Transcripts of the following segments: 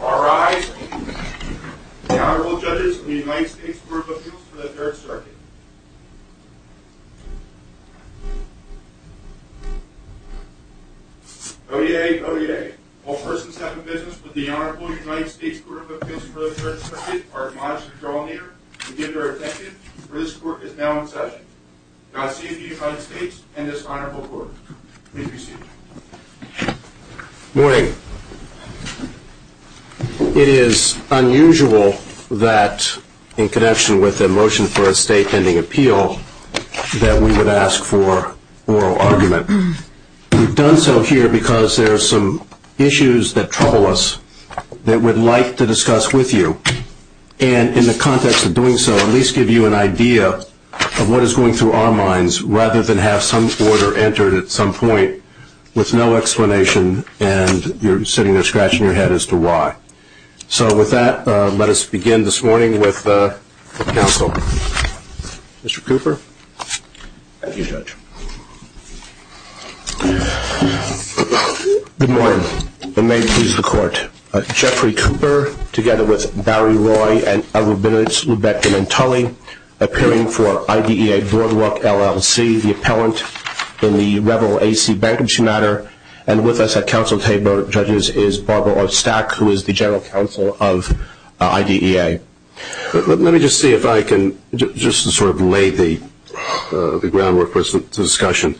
All rise, the Honorable Judges of the United States Court of Appeals for the Third Circuit. ODA, ODA, all persons having business with the Honorable United States Court of Appeals for the Third Circuit are admonished to draw near and give their attention, for this Court is now in session. Godspeed to you, Honorable States, and this Honorable Court. Please be seated. Morning. It is unusual that, in connection with the motion for a state pending appeal, that we would ask for oral argument. We've done so here because there are some issues that trouble us that we'd like to discuss with you, and in the context of doing so, at least give you an idea of what is going through our minds, rather than have some order entered at some point with no explanation, and you're sitting there scratching your head as to why. So with that, let us begin this morning with counsel. Mr. Cooper? Thank you, Judge. Good morning. May it please the Court. Jeffrey Cooper, together with Valerie Roy and Edward Bennett, Rebecca Mantulli, appearing for IDEA Boardwalk LLC, the appellant in the Rebel A.C. Bankruptcy Matter, and with us at counsel table, Judges, is Barbara Ostak, who is the general counsel of IDEA. Let me just see if I can just sort of lay the groundwork for this discussion.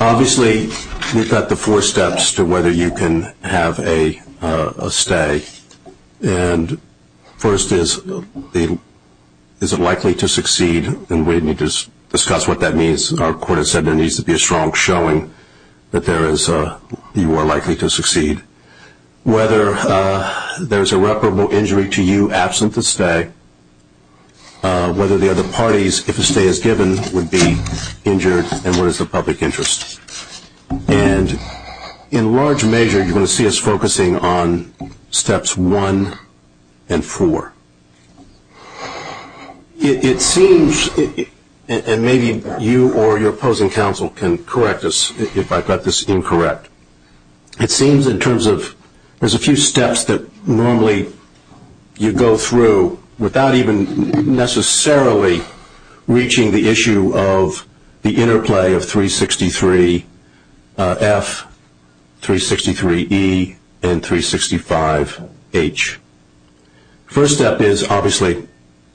Obviously, we've got the four steps to whether you can have a stay. And first is, is it likely to succeed? And we need to discuss what that means. Our court has said there needs to be a strong showing that you are likely to succeed. Whether there's irreparable injury to you absent the stay, whether the other parties, if a stay is given, would be injured, and what is the public interest? And in large measure, you're going to see us focusing on steps one and four. It seems, and maybe you or your opposing counsel can correct us if I've got this incorrect, it seems in terms of there's a few steps that normally you go through without even necessarily reaching the issue of the interplay of 363F, 363E, and 365H. First step is, obviously,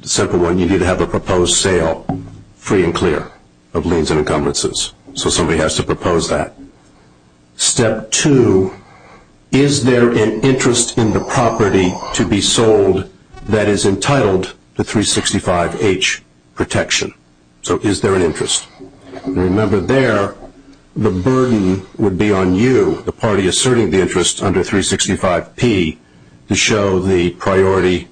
the simple one. You need to have a proposed sale, free and clear, of liens and encumbrances. So somebody has to propose that. Step two, is there an interest in the property to be sold that is entitled to 365H protection? So is there an interest? Remember there, the burden would be on you, the party asserting the interest under 365P, to show the priority,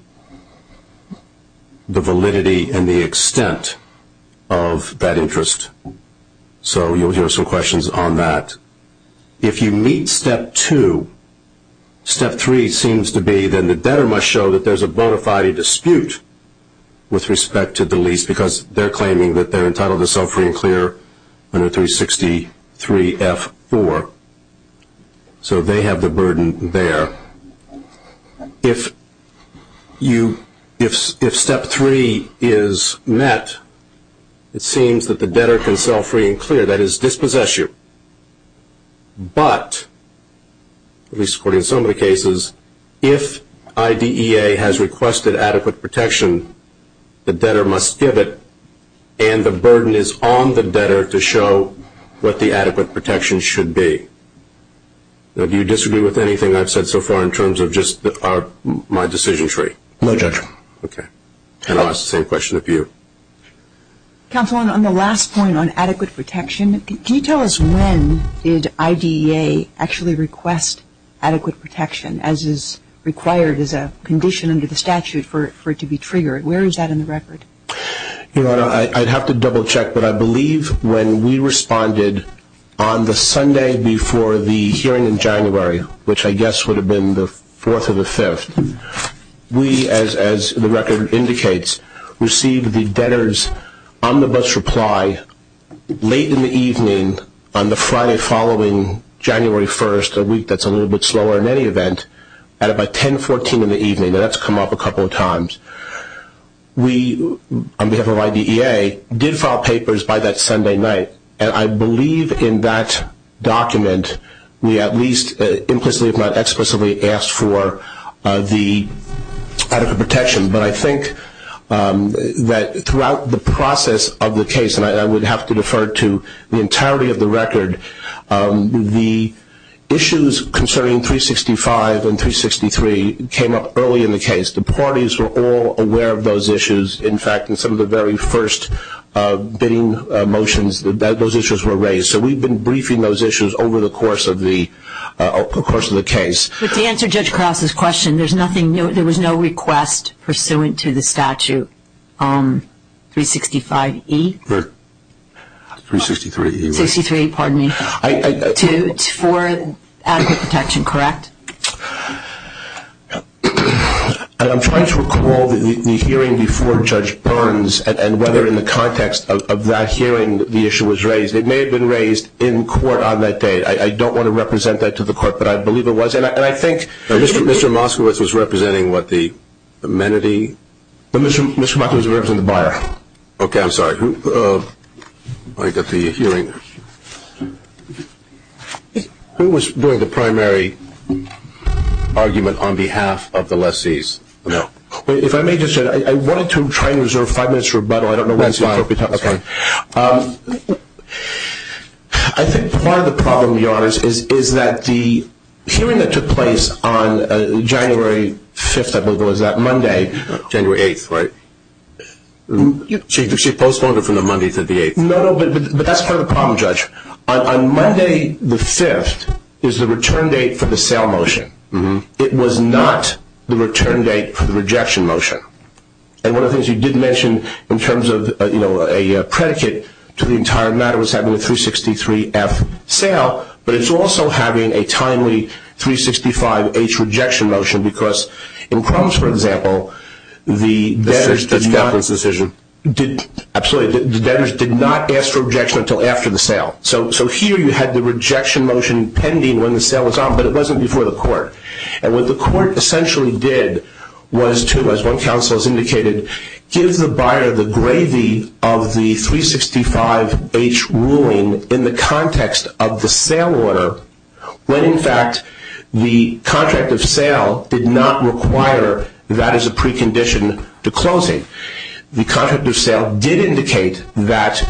the validity, and the extent of that interest. So you'll hear some questions on that. If you meet step two, step three seems to be, then the debtor must show that there's a bona fide dispute with respect to the lease, because they're claiming that they're entitled to sell free and clear under 363F4. So they have the burden there. If step three is met, it seems that the debtor can sell free and clear. That is, dispossess you. But, at least according to some of the cases, if IDEA has requested adequate protection, the debtor must give it, and the burden is on the debtor to show what the adequate protection should be. Now, do you disagree with anything I've said so far in terms of just my decision tree? No, Judge. Okay. And I'll ask the same question of you. Counselor, on the last point on adequate protection, can you tell us when did IDEA actually request adequate protection, as is required as a condition under the statute for it to be triggered? Where is that in the record? Your Honor, I'd have to double check, but I believe when we responded on the Sunday before the hearing in January, which I guess would have been the 4th or the 5th, we, as the record indicates, received the debtor's omnibus reply late in the evening on the Friday following January 1st, which is a week that's a little bit slower in any event, at about 10-14 in the evening. That's come up a couple of times. We, on behalf of IDEA, did file papers by that Sunday night, and I believe in that document, we at least implicitly if not explicitly asked for the adequate protection. But I think that throughout the process of the case, and I would have to defer to the entirety of the record, the issues concerning 365 and 363 came up early in the case. The parties were all aware of those issues. In fact, in some of the very first bidding motions, those issues were raised. So we've been briefing those issues over the course of the case. To answer Judge Krause's question, there was no request pursuant to the statute on 365E? 363E. 363E, pardon me, for adequate protection, correct? I'm trying to recall the hearing before Judge Burns and whether in the context of that hearing the issue was raised. It may have been raised in court on that day. I don't want to represent that to the court, but I believe it was. And I think Mr. Moskowitz was representing what, the amenity? Mr. Moskowitz was representing the buyer. Okay, I'm sorry. Let me go through your hearing. Who was doing the primary argument on behalf of the lessees? No. If I may just say, I wanted to try and reserve five minutes for rebuttal. I don't know what else you want to talk about. That's fine. I think part of the problem of yours is that the hearing that took place on January 5th, I believe, was that Monday? January 8th, right. She postponed it from the Monday to the 8th. No, but that's part of the problem, Judge. On Monday the 5th is the return date for the sale motion. It was not the return date for the rejection motion. And one of the things you did mention in terms of, you know, a predicate to the entire matter was having a 363F sale, but it's also having a timely 365H rejection motion because in Crohn's, for example, the veterans did not ask for rejection until after the sale. So here you had the rejection motion pending when the sale was on, but it wasn't before the court. And what the court essentially did was to, as both counsels indicated, give the buyer the gravy of the 365H ruling in the context of the sale order, when, in fact, the contract of sale did not require that as a precondition to closing. The contract of sale did indicate that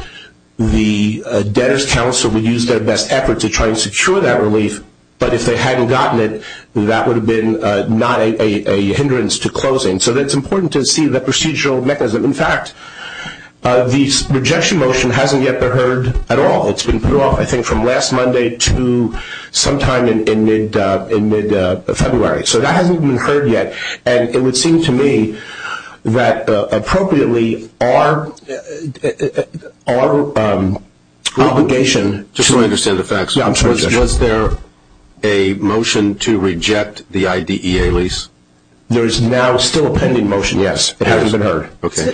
the debtor's counsel would use their best effort to try to secure that relief, but if they hadn't gotten it, that would have been not a hindrance to closing. So it's important to see the procedural mechanism. In fact, the rejection motion hasn't yet been heard at all. It's been put off, I think, from last Monday to sometime in mid-February. So that hasn't been heard yet, and it would seem to me that, appropriately, our obligation to- I just want to understand the facts. Was there a motion to reject the IDEA lease? There is now still a pending motion, yes. It hasn't been heard. Okay.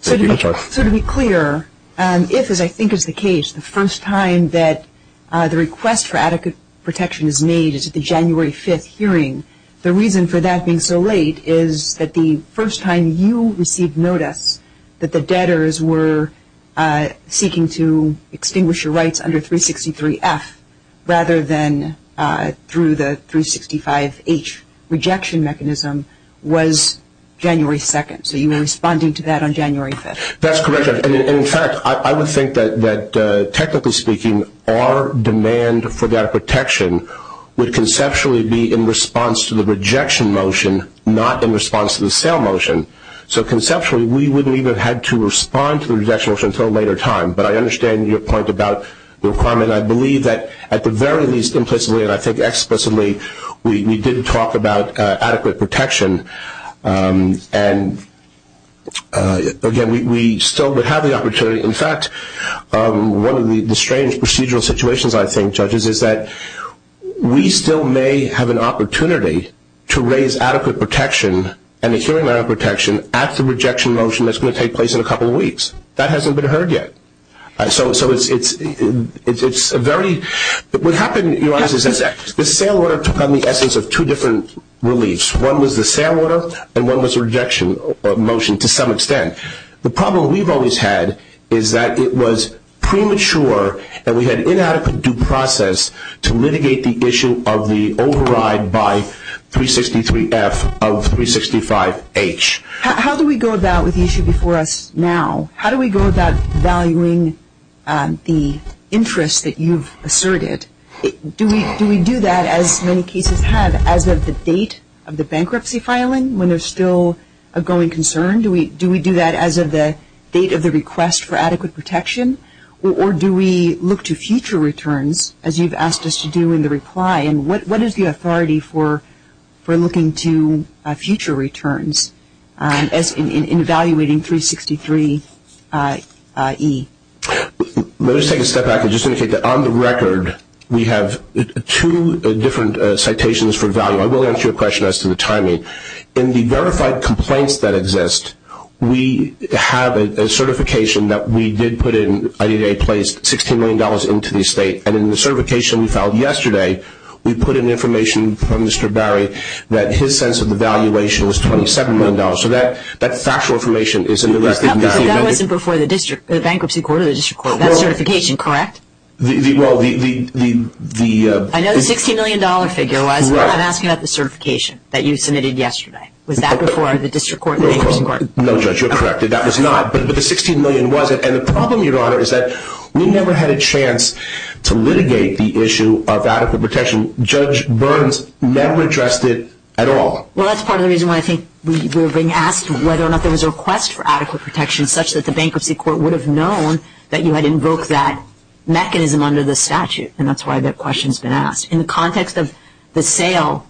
So to be clear, if, as I think is the case, the first time that the request for adequate protection is made is at the January 5th hearing, the reason for that being so late is that the first time you received notice that the debtors were seeking to extinguish your rights under 363F rather than through the 365H rejection mechanism was January 2nd. So you were responding to that on January 5th. That's correct. In fact, I would think that, technically speaking, our demand for that protection would conceptually be in response to the rejection motion, not in response to the sale motion. So conceptually, we wouldn't even have had to respond to the rejection motion until a later time. But I understand your point about the requirement. I believe that, at the very least, implicitly, and I think explicitly, we did talk about adequate protection. And, again, we still would have the opportunity. In fact, one of the strange procedural situations, I think, judges, is that we still may have an opportunity to raise adequate protection and a hearing on protection at the rejection motion that's going to take place in a couple weeks. That hasn't been heard yet. So it's a very – what happened is the sale order took on the essence of two different reliefs. One was the sale order, and one was the rejection motion to some extent. The problem we've always had is that it was premature and we had inadequate due process to litigate the issue of the override by 363F of 365H. How do we go about with the issue before us now? How do we go about valuing the interest that you've asserted? Do we do that, as many cases have, as of the date of the bankruptcy filing, when there's still a growing concern? Do we do that as of the date of the request for adequate protection? Or do we look to future returns, as you've asked us to do in the reply? And what is the authority for looking to future returns in evaluating 363E? Let me just take a step back and just indicate that on the record, we have two different citations for value. I will answer your question as to the timing. In the verified complaints that exist, we have a certification that we did put in. The VA placed $16 million into the estate, and in the certification we filed yesterday, we put in information from Mr. Barry that his sense of the valuation was $27 million. So that factual information is in the record. That wasn't before the bankruptcy court or the district court. That certification, correct? I know the $16 million figure. I'm asking about the certification that you submitted yesterday. Was that before the district court or the bankruptcy court? No, Judge, you're correct. That was not. The $16 million wasn't, and the problem, Your Honor, is that we never had a chance to litigate the issue of adequate protection. Judge Burns never addressed it at all. Well, that's part of the reason why I think we were being asked whether or not there was a request for adequate protection such that the bankruptcy court would have known that you had invoked that mechanism under the statute, and that's why that question's been asked. In the context of the sale,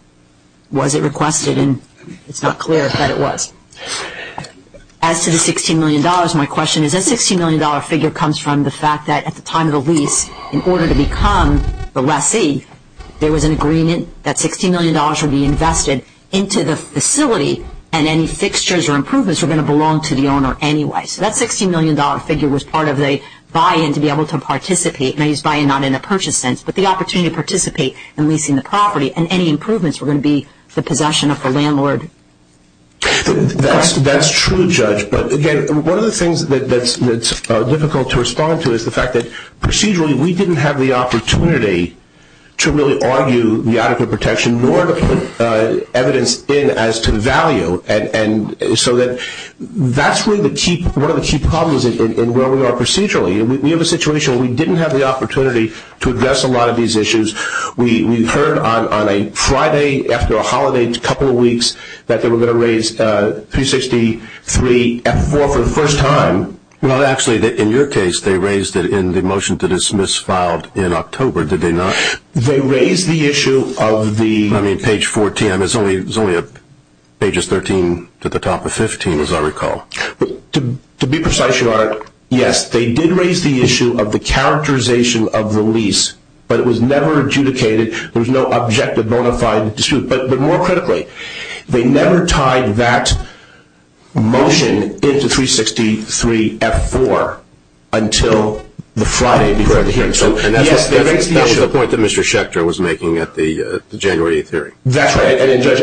was it requested? And it's not clear if that was. As to the $16 million, my question is, that $16 million figure comes from the fact that at the time of the lease, in order to become the lessee, there was an agreement that $16 million would be invested into the facility and any fixtures or improvements were going to belong to the owner anyway. So that $16 million figure was part of the buy-in to be able to participate, and I use buy-in not in a purchase sense, but the opportunity to participate in leasing the property, and any improvements were going to be for possession of the landlord. That's true, Judge. But, again, one of the things that's difficult to respond to is the fact that procedurally we didn't have the opportunity to really argue the adequate protection nor to put evidence in as to value, and so that's one of the key problems in where we are procedurally. We have a situation where we didn't have the opportunity to address a lot of these issues. We heard on a Friday after a holiday a couple of weeks that they were going to raise 363F4 for the first time. Well, actually, in your case, they raised it in the motion to dismiss filed in October, did they not? They raised the issue of the page 14. It's only pages 13 to the top of 15, as I recall. To be precise, Your Honor, yes, they did raise the issue of the characterization of the lease, but it was never adjudicated. There was no objective bona fide dispute. But more critically, they never tied that motion into 363F4 until the Friday. And that's the point that Mr. Schechter was making at the January 8th hearing. That's right.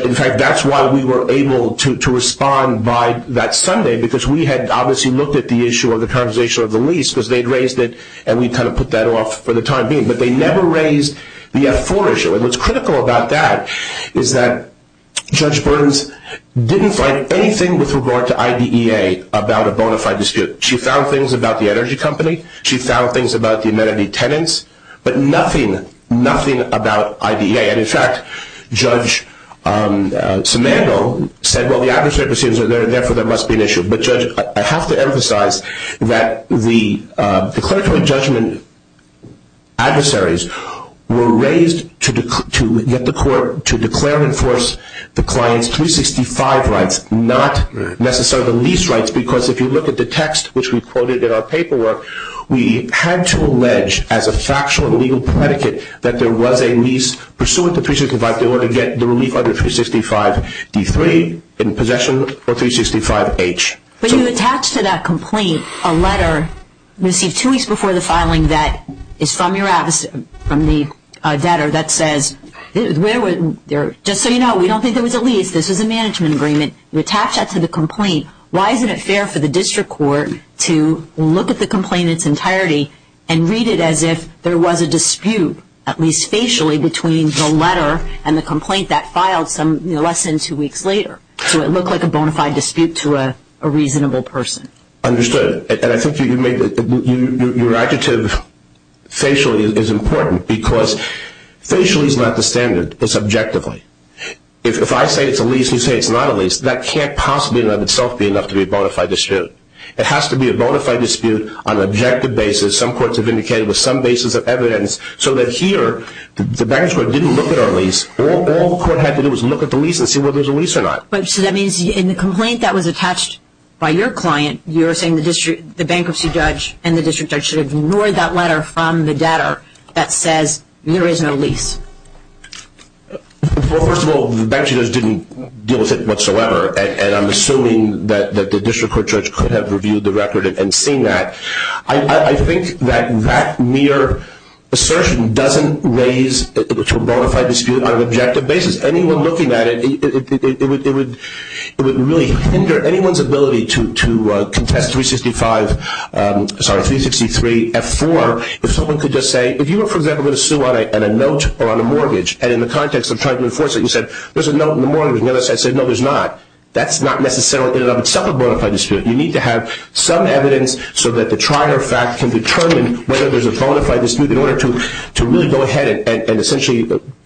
In fact, that's why we were able to respond by that Sunday, because we had obviously looked at the issue of the characterization of the lease, because they had raised it, and we kind of put that off for the time being. But they never raised the F4 issue. And what's critical about that is that Judge Burns didn't find anything with regard to IDEA about a bona fide dispute. She found things about the energy company. She found things about the amenity tenants, but nothing about IDEA. And, in fact, Judge Simandoe said, well, the adversary perceives it, and therefore there must be an issue. But, Judge, I have to emphasize that the declaratory judgment adversaries were raised to declare and enforce the client's 365 rights, not necessarily the lease rights, because if you look at the text, which we quoted in our paperwork, we had to allege as a factual legal predicate that there was a lease pursuant to 365, in order to get the relief under 365D3 in possession of 365H. But you attach to that complaint a letter received two weeks before the filing that is from your adversary, from the debtor, that says, just so you know, we don't think there was a lease. This is a management agreement. You attach that to the complaint. Why isn't it fair for the district court to look at the complaint in its entirety and read it as if there was a dispute, at least facially, between the letter and the complaint that filed less than two weeks later, so it looked like a bona fide dispute to a reasonable person? Understood. And I think your adjective, facially, is important, because facially is not the standard. It's objectively. If I say it's a lease and you say it's not a lease, that can't possibly in and of itself be enough to be a bona fide dispute. It has to be a bona fide dispute on an objective basis. Some courts have indicated there's some basis of evidence, so that here the bankers didn't look at our lease. All the court had to do was look at the lease and see whether there was a lease or not. So that means in the complaint that was attached by your client, you're saying the bankruptcy judge and the district judge should have ignored that letter from the debtor that says there is no lease. First of all, the bankers didn't deal with it whatsoever, and I'm assuming that the district court judge could have reviewed the record and seen that. I think that that mere assertion doesn't raise a bona fide dispute on an objective basis. Anyone looking at it, it would really hinder anyone's ability to contest 365, sorry, 363F4, if someone could just say, if you were, for example, going to sue on a note or on a mortgage, and in the context of trying to enforce it, you said, there's a note in the mortgage, and I said, no, there's not. That's not necessarily in and of itself a bona fide dispute. You need to have some evidence so that the trial or fact can determine whether there's a bona fide dispute in order to really go ahead and essentially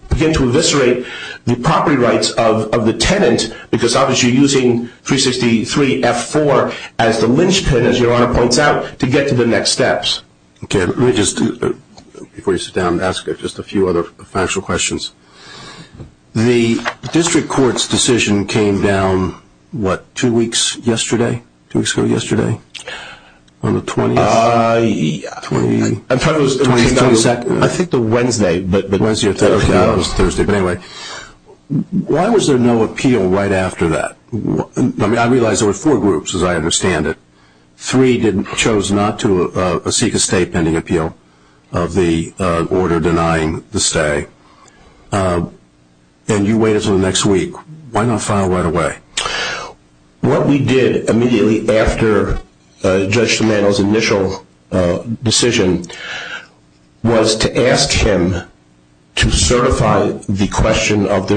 begin to eviscerate the property rights of the tenant, because obviously you're using 363F4 as the lynchpin, as your Honor points out, to get to the next steps. Okay. Let me just, before you sit down, ask just a few other factual questions. The district court's decision came down, what, two weeks yesterday? Two weeks ago yesterday? On the 20th? I think the Wednesday, but Wednesday or Thursday. But anyway, why was there no appeal right after that? I mean, I realize there were four groups, as I understand it. Three chose not to seek a state pending appeal of the order denying the stay. And you waited until the next week. Why not file right away? What we did immediately after Judge Domenico's initial decision was to ask him to certify the question of the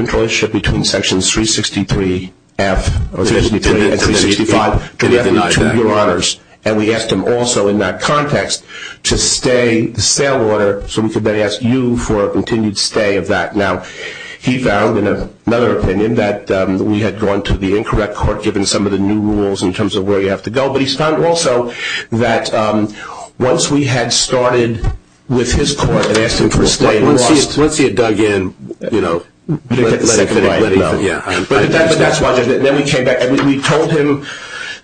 And we asked him also in that context to stay the stay order so we could then ask you for a continued stay of that. Now, he found in another opinion that we had gone to the incorrect court, given some of the new rules in terms of where you have to go. But he found also that once we had started with his court and asked him for a stay, Once he had dug in, you know, let him know. We told him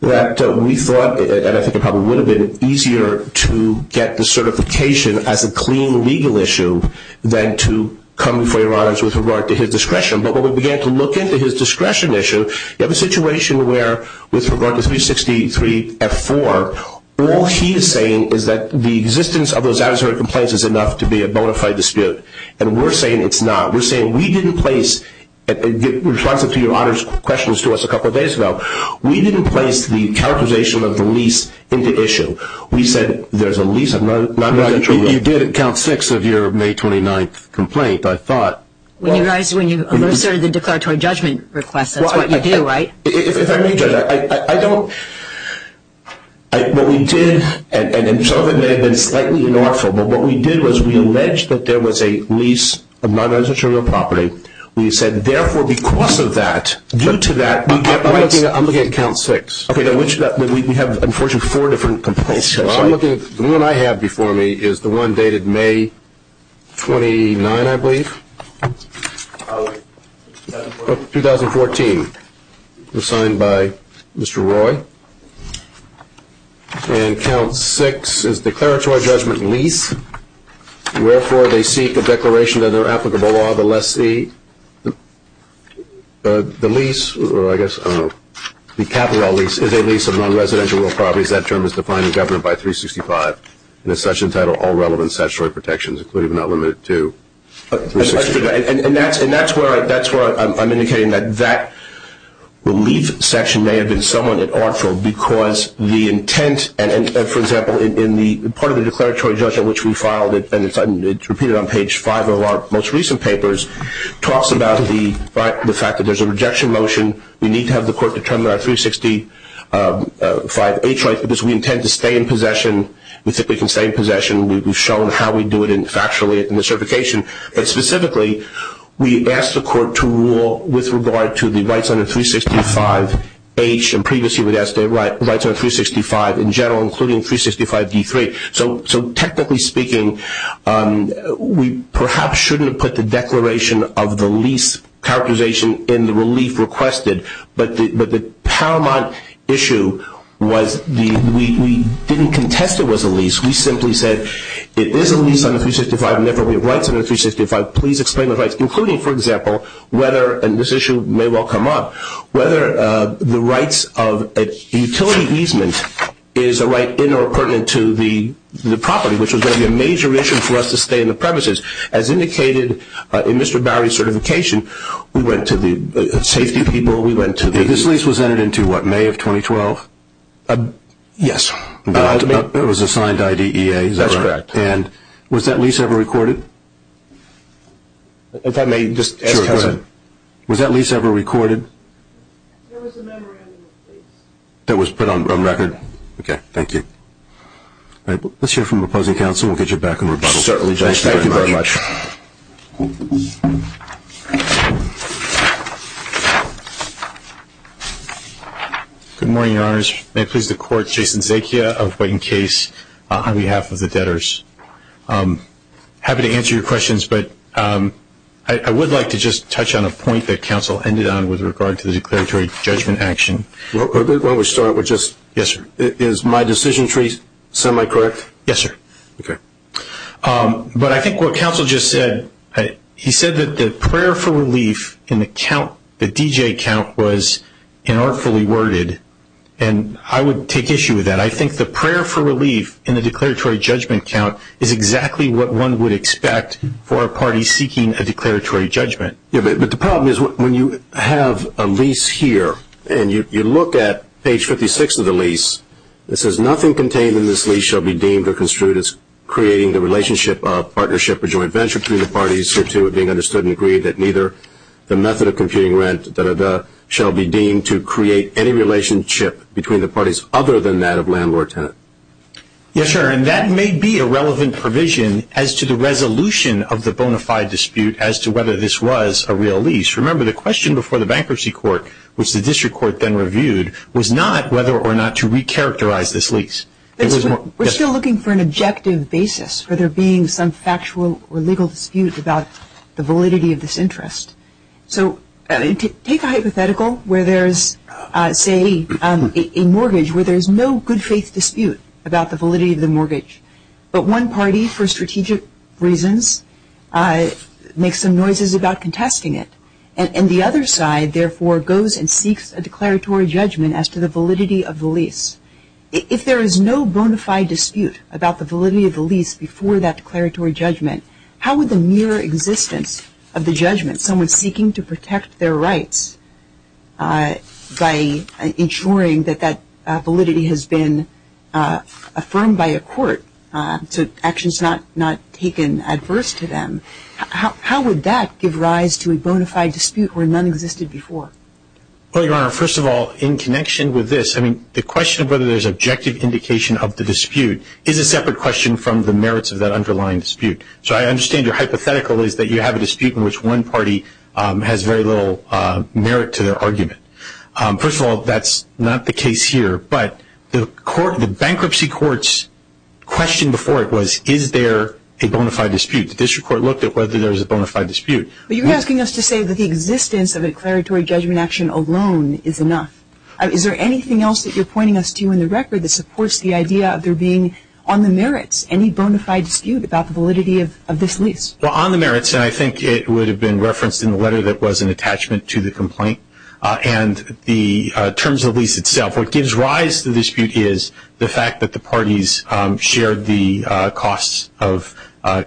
that we thought, and I think it probably would have been, easier to get the certification as a clean legal issue than to come before your honors with regard to his discretion. But when we began to look into his discretion issue, you have a situation where with regard to 363F4, all he is saying is that the existence of those adversarial complaints is enough to be a bona fide dispute. And we're saying it's not. We're saying we didn't place, in response to your honors questions to us a couple of days ago, we didn't place the characterization of the lease into issue. We said there's a lease of non-identity. You did count six of your May 29th complaint, I thought. When you started the declaratory judgment request. That's what you do, right? If I may, Judge, I don't. What we did, and some of it may have been slightly unlawful, but what we did was we alleged that there was a lease of non-identity property. We said, therefore, because of that, due to that. I'm looking at count six. Okay. We have, unfortunately, four different complaints. The one I have before me is the one dated May 29, I believe. 2014. It was signed by Mr. Roy. Okay. And count six is declaratory judgment lease. Therefore, they seek the declaration of their applicable law, unless the lease, or I guess, I don't know, the capital lease is a lease of non-residential properties. That term is defined in government by 365. And the section title, all relevant statutory protections, including but not limited to 365. And that's where I'm indicating that that lease section may have been somewhat unlawful, because the intent, for example, in part of the declaratory judgment, which we filed, and it's repeated on page five of our most recent papers, talks about the fact that there's a rejection motion. We need to have the court determine our 365 H.I. because we intend to stay in possession. We think we can stay in possession. We've shown how we do it factually in the certification. But specifically, we asked the court to rule with regard to the rights under 365 H. And previously we'd asked the rights under 365 in general, including 365 D3. So technically speaking, we perhaps shouldn't have put the declaration of the lease characterization in the relief requested. But the paramount issue was we didn't contest it was a lease. We simply said it is a lease under 365 and therefore we have rights under 365. Please explain the rights, including, for example, whether, and this issue may well come up, whether the rights of a utility easement is a right in or pertinent to the property, which was going to be a major issue for us to stay in the premises. As indicated in Mr. Barry's certification, we went to the safety people. This lease was entered into, what, May of 2012? Yes. It was a signed IDEA. That's correct. And was that lease ever recorded? I'm sorry, may I just add to that? Sure, go ahead. Was that lease ever recorded? There was a memory on it. That was put on record? Yes. Okay, thank you. All right, let's hear from the opposing counsel. We'll get you back on rebuttal. Certainly, Judge. Thank you very much. Good morning, Your Honors. May it please the Court, Jason Zakia of Wayne Case on behalf of the debtors. I'm happy to answer your questions, but I would like to just touch on a point that counsel ended on with regard to the declaratory judgment action. Why don't we start with just, is my decision tree semi-correct? Yes, sir. Okay. But I think what counsel just said, he said that the prayer for relief in the count, was inartfully worded, and I would take issue with that. I think the prayer for relief in the declaratory judgment count is exactly what one would expect for a party seeking a declaratory judgment. Yes, but the problem is when you have a lease here and you look at page 56 of the lease, it says nothing contained in this lease shall be deemed or construed as creating the relationship or partnership or joint venture between the parties, and agree that neither the method of computing rent, da-da-da, shall be deemed to create any relationship between the parties other than that of landlord-tenant. Yes, sir, and that may be a relevant provision as to the resolution of the bona fide dispute as to whether this was a real lease. Remember, the question before the bankruptcy court, which the district court then reviewed, was not whether or not to recharacterize this lease. We're still looking for an objective basis for there being some factual or legal disputes about the validity of this interest. So take a hypothetical where there's, say, a mortgage, where there's no good faith dispute about the validity of the mortgage, but one party, for strategic reasons, makes some noises about contesting it, and the other side, therefore, goes and seeks a declaratory judgment as to the validity of the lease. If there is no bona fide dispute about the validity of the lease before that declaratory judgment, how would the mere existence of the judgment someone's taking to protect their rights by ensuring that that validity has been affirmed by a court to actions not taken adverse to them, how would that give rise to a bona fide dispute where none existed before? Well, Your Honor, first of all, in connection with this, I mean the question of whether there's objective indication of the dispute is a separate question from the merits of that underlying dispute. So I understand your hypothetical is that you have a dispute in which one party has very little merit to their argument. First of all, that's not the case here, but the bankruptcy court's question before it was, is there a bona fide dispute? The district court looked at whether there was a bona fide dispute. But you're asking us to say that the existence of a declaratory judgment action alone is enough. Is there anything else that you're pointing us to in the record that supports the idea of there being, on the merits, any bona fide dispute about the validity of this lease? Well, on the merits, and I think it would have been referenced in the letter that was an attachment to the complaint, and in terms of the lease itself, what gives rise to the dispute is the fact that the parties shared the costs of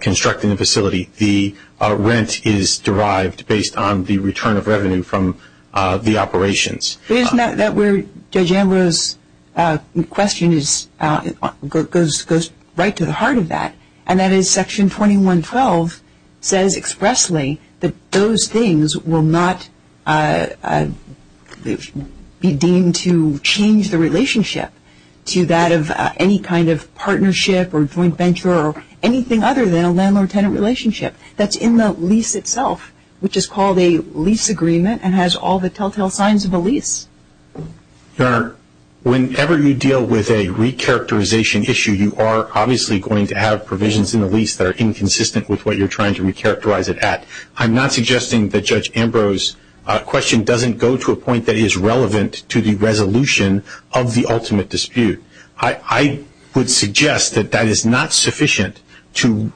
constructing the facility. The rent is derived based on the return of revenue from the operations. Isn't that where Judge Ambrose's question goes right to the heart of that, and that is Section 2112 says expressly that those things will not be deemed to change the relationship to that of any kind of That's in the lease itself, which is called a lease agreement and has all the telltale signs of a lease. Whenever you deal with a recharacterization issue, you are obviously going to have provisions in the lease that are inconsistent with what you're trying to recharacterize it at. I'm not suggesting that Judge Ambrose's question doesn't go to a point that is relevant to the resolution of the ultimate dispute. I would suggest that that is not sufficient to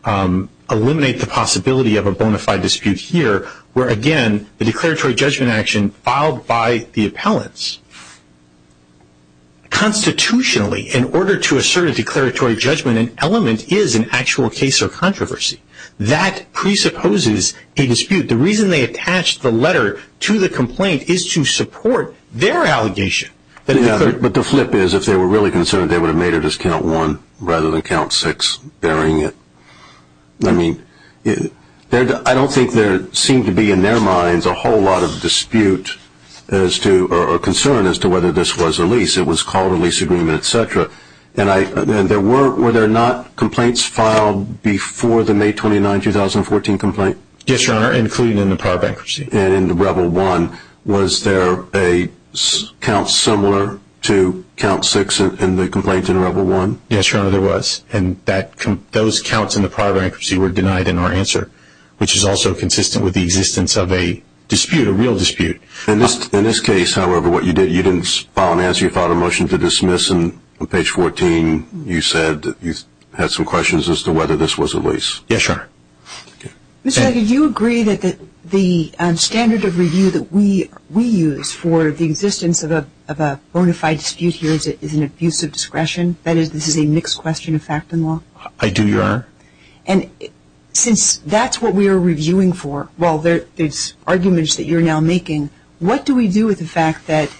eliminate the possibility of a bona fide dispute here, where, again, the declaratory judgment action filed by the appellants constitutionally, in order to assert a declaratory judgment, an element is an actual case of controversy. That presupposes a dispute. The reason they attached the letter to the complaint is to support their allegation. But the flip is, if they were really concerned, they would have made it as count one rather than count six, varying it. I don't think there seemed to be, in their minds, a whole lot of dispute or concern as to whether this was a lease. It was called a lease agreement, et cetera. Were there not complaints filed before the May 29, 2014, complaint? Yes, Your Honor, including in the power bankruptcy. And in rebel one, was there a count similar to count six in the complaint in rebel one? Yes, Your Honor, there was. And those counts in the power bankruptcy were denied in our answer, which is also consistent with the existence of a dispute, a real dispute. In this case, however, what you did, you didn't file an answer, you filed a motion to dismiss, and on page 14 you said that you had some questions as to whether this was a lease. Yes, Your Honor. Mr. Leger, do you agree that the standard of review that we use for the existence of a bona fide dispute here is an abuse of discretion? That is, this is a mixed question of fact and law? I do, Your Honor. And since that's what we are reviewing for, well, these arguments that you're now making, what do we do with the fact that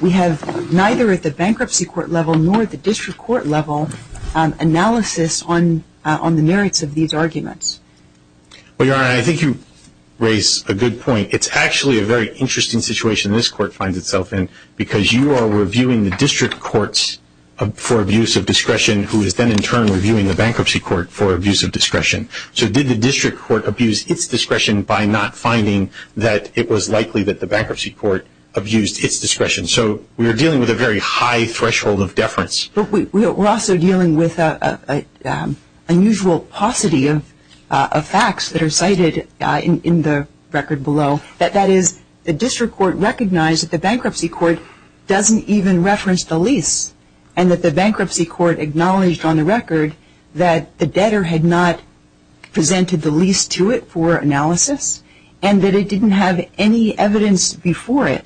we have neither at the bankruptcy court level nor at the district court level analysis on the merits of these arguments? Well, Your Honor, I think you raise a good point. It's actually a very interesting situation this court finds itself in, because you are reviewing the district courts for abuse of discretion, who is then in turn reviewing the bankruptcy court for abuse of discretion. So did the district court abuse its discretion by not finding that it was likely that the bankruptcy court abused its discretion? So we are dealing with a very high threshold of deference. But we're also dealing with an unusual paucity of facts that are cited in the record below. That is, the district court recognized that the bankruptcy court doesn't even reference the lease, and that the bankruptcy court acknowledged on the record that the debtor had not presented the lease to it for analysis, and that it didn't have any evidence before it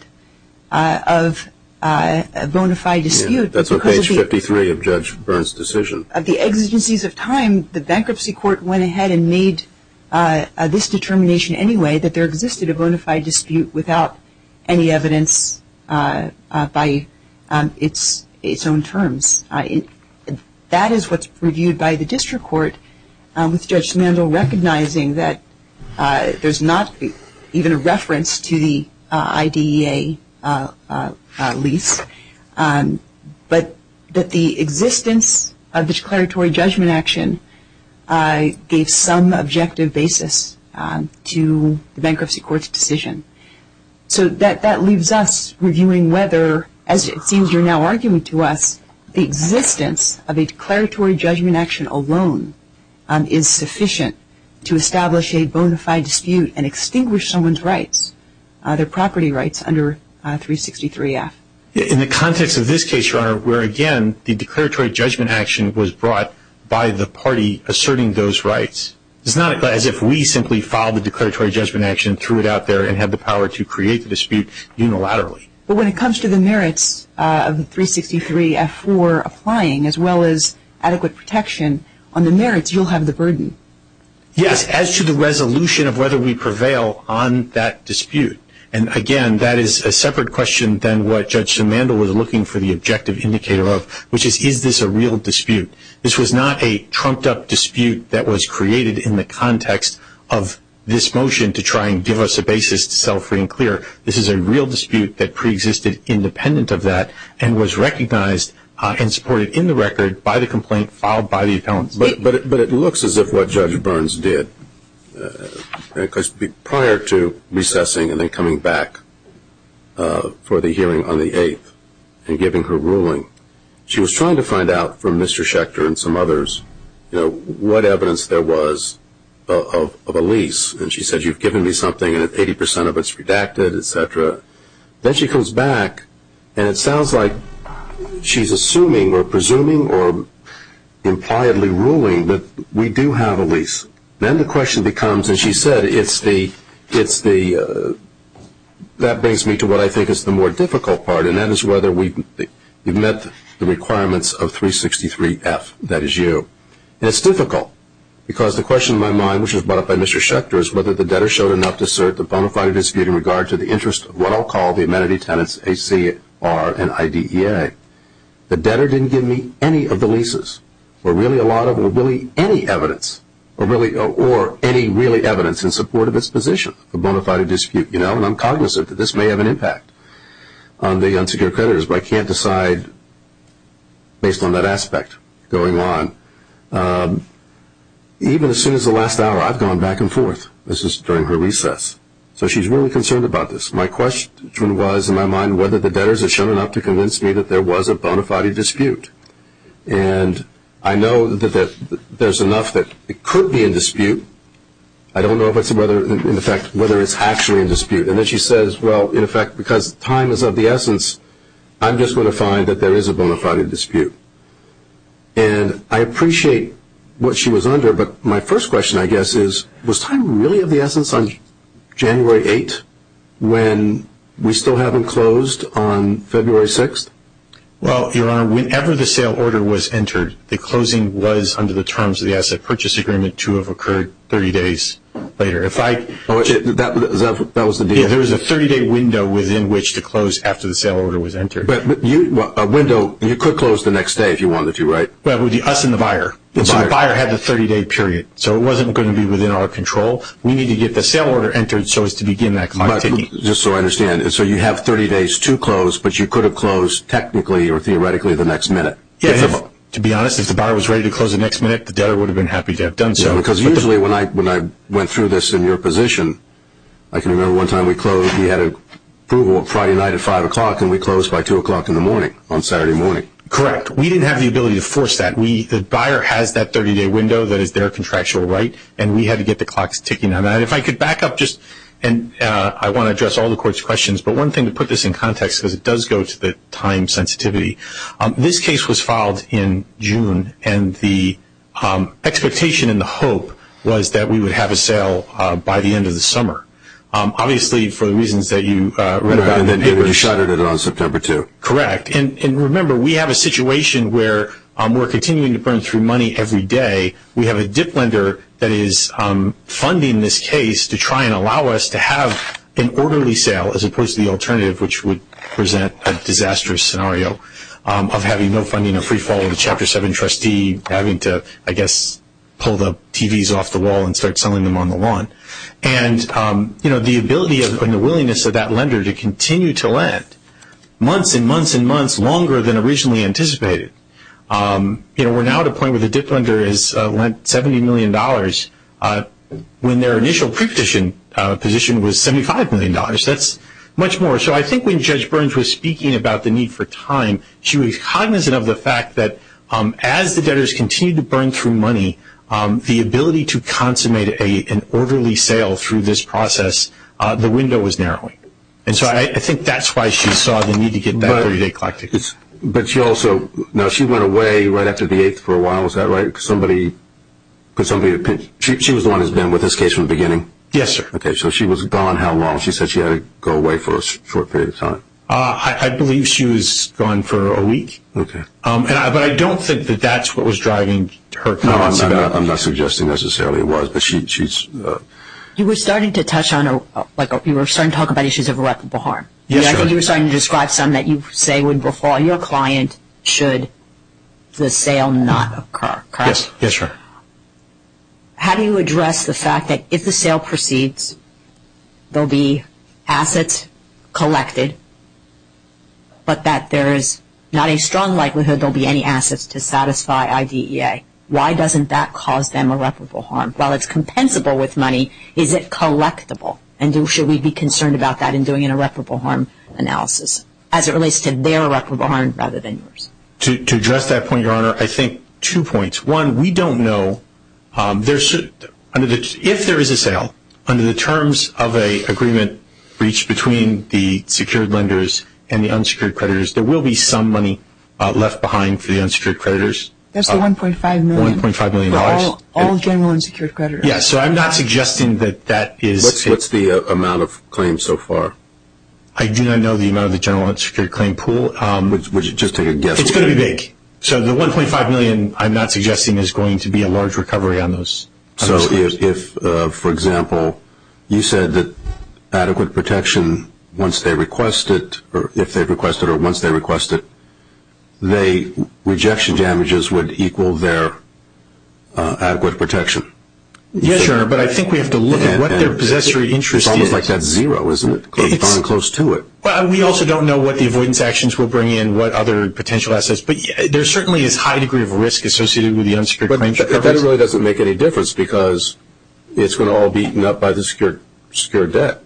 of a bona fide dispute. That's on page 53 of Judge Byrne's decision. Of the exigencies of time, the bankruptcy court went ahead and made this determination anyway, that there existed a bona fide dispute without any evidence by its own terms. That is what's reviewed by the district court, with Judge Smendel recognizing that there's not even a reference to the IDEA lease, but that the existence of a declaratory judgment action gave some objective basis to the bankruptcy court's decision. So that leaves us reviewing whether, as it seems you're now arguing to us, the existence of a declaratory judgment action alone is sufficient to establish a bona fide dispute and extinguish someone's rights, their property rights, under 363-F. In the context of this case, Your Honor, where, again, the declaratory judgment action was brought by the party asserting those rights, it's not as if we simply filed a declaratory judgment action, threw it out there, and had the power to create the dispute unilaterally. But when it comes to the merits of the 363-F4 applying, as well as adequate protection on the merits, you'll have the burden. Yes, as to the resolution of whether we prevail on that dispute. And, again, that is a separate question than what Judge Smendel was looking for the objective indicator of, which is, is this a real dispute? This was not a trumped-up dispute that was created in the context of this motion to try and give us a basis to settle free and clear. This is a real dispute that preexisted independent of that and was recognized and supported in the record by the complaint filed by the appellant. But it looks as if what Judge Burns did, prior to recessing and then coming back for the hearing on the 8th and giving her ruling, she was trying to find out from Mr. Schechter and some others, you know, what evidence there was of a lease. And she said, you've given me something and 80 percent of it's redacted, et cetera. Then she comes back and it sounds like she's assuming or presuming or impliedly ruling that we do have a lease. Then the question becomes, as she said, that brings me to what I think is the more difficult part, and that is whether we've met the requirements of 363-F, that is you. And it's difficult because the question in my mind, which was brought up by Mr. Schechter, is whether the debtor showed enough to assert the bona fide dispute in regard to the interest of what I'll call the amenity tenants ACR and IDEA. The debtor didn't give me any of the leases or really any evidence or any really evidence in support of its position, the bona fide dispute, you know, and I'm cognizant that this may have an impact on the unsecured creditors, but I can't decide based on that aspect going on. Even as soon as the last hour, I've gone back and forth. This is during her recess. So she's really concerned about this. My question was in my mind whether the debtors had shown enough to convince me that there was a bona fide dispute. And I know that there's enough that it could be a dispute. I don't know whether it's actually a dispute. And then she says, well, in effect, because time is of the essence, I'm just going to find that there is a bona fide dispute. And I appreciate what she was under, but my first question, I guess, is, was time really of the essence on January 8th when we still haven't closed on February 6th? Well, Your Honor, whenever the sale order was entered, the closing was under the terms of the asset purchase agreement to have occurred 30 days later. That was the deal? Yeah, there was a 30-day window within which to close after the sale order was entered. But a window, you could close the next day if you wanted to, right? But it would be us and the buyer. So the buyer had the 30-day period. So it wasn't going to be within our control. We need to get the sale order entered so as to begin that commodity. Just so I understand, so you have 30 days to close, but you could have closed technically or theoretically the next minute? Yeah, to be honest, if the buyer was ready to close the next minute, the debtor would have been happy to have done so. Because usually when I went through this in your position, I can remember one time we closed. We had approval Friday night at 5 o'clock, and we closed by 2 o'clock in the morning on Saturday morning. Correct. We didn't have the ability to force that. The buyer has that 30-day window that is their contractual right, and we had to get the clock ticking on that. If I could back up just, and I want to address all the Court's questions, but one thing to put this in context because it does go to the time sensitivity. This case was filed in June, and the expectation and the hope was that we would have a sale by the end of the summer. Obviously, for the reasons that you raised. And then they would have shut it on September 2. Correct. And remember, we have a situation where we're continuing to burn through money every day. We have a dip lender that is funding this case to try and allow us to have an orderly sale as opposed to the alternative, which would present a disastrous scenario of having no funding or free fall of the Chapter 7 trustee, having to, I guess, pull the TVs off the wall and start selling them on the lawn. And, you know, the ability and the willingness of that lender to continue to lend, months and months and months longer than originally anticipated. You know, we're now at a point where the dip lender has lent $70 million when their initial preposition position was $75 million. That's much more. So I think when Judge Burns was speaking about the need for time, she was cognizant of the fact that as the debtors continue to burn through money, the ability to consummate an orderly sale through this process, the window is narrowing. And so I think that's why she saw the need to get that 30-day collective. But she also, now she went away right after the 8th for a while, is that right? Could somebody, she was the one that's been with this case from the beginning? Yes, sir. Okay. So she was gone how long? She said she had to go away for a short period of time. I believe she was gone for a week. Okay. But I don't think that that's what was driving her. No, I'm not suggesting necessarily it was, but she's. You were starting to touch on, like you were starting to talk about issues of irreparable harm. Yes, sir. You were starting to describe something that you say would befall your client should the sale not occur, correct? Yes, sir. How do you address the fact that if the sale proceeds, there will be assets collected, but that there is not a strong likelihood there will be any assets to satisfy IDEA? Why doesn't that cause them irreparable harm? While it's compensable with money, is it collectible? And should we be concerned about that in doing an irreparable harm analysis as it relates to their irreparable harm rather than yours? To address that point, Your Honor, I think two points. One, we don't know. If there is a sale, under the terms of an agreement reached between the secured lenders and the unsecured creditors, there will be some money left behind for the unsecured creditors. Just the $1.5 million? $1.5 million. For all general unsecured creditors? Yes. So I'm not suggesting that that is. What's the amount of claims so far? I do not know the amount of the general unsecured claim pool. Would you just take a guess? It's going to be big. So the $1.5 million, I'm not suggesting, is going to be a large recovery on those claims. So if, for example, you said that adequate protection, once they request it, or if they request it or once they request it, the rejection damages would equal their adequate protection? Yes, Your Honor, but I think we have to look at what their possessory interest is. It's almost like that zero, isn't it? We've gotten close to it. Well, we also don't know what the avoidance actions will bring in, what other potential assets, but there's certainly a high degree of risk associated with the unsecured claims. But that really doesn't make any difference because it's going to all be eaten up by the secured debt,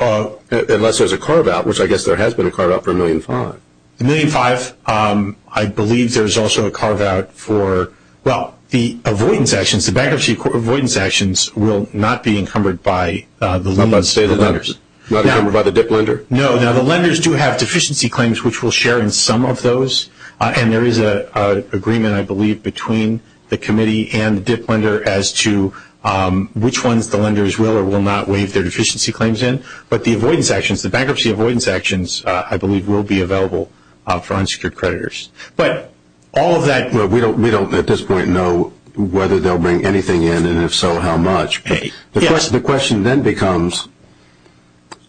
unless there's a carve-out, which I guess there has been a carve-out for $1.5 million. $1.5 million, I believe there's also a carve-out for, well, the avoidance actions, the bankruptcy avoidance actions will not be encumbered by the loaners. Not encumbered by the DIP lender? No. Now, the lenders do have deficiency claims, which we'll share in some of those, and there is an agreement, I believe, between the committee and the DIP lender as to which ones the lenders will or will not waive their deficiency claims in. But the avoidance actions, the bankruptcy avoidance actions, I believe, will be available for unsecured creditors. But all of that. Well, we don't, at this point, know whether they'll bring anything in, and if so, how much. The question then becomes,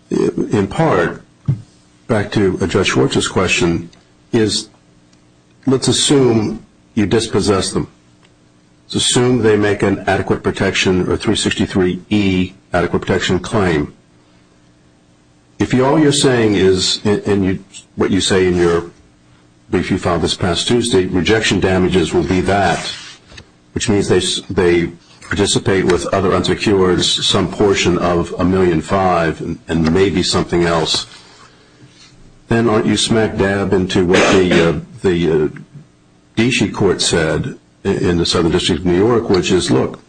in part, back to Judge Wirtz's question, is let's assume you dispossess them. Let's assume they make an adequate protection or 363E adequate protection claim. If all you're saying is, and what you say in your brief you filed this past Tuesday, the rejection damages will be that, which means they participate with other unsecures, some portion of $1.5 million and maybe something else, then aren't you smack dab into what the D.C. court said in the Southern District of New York, which is, look,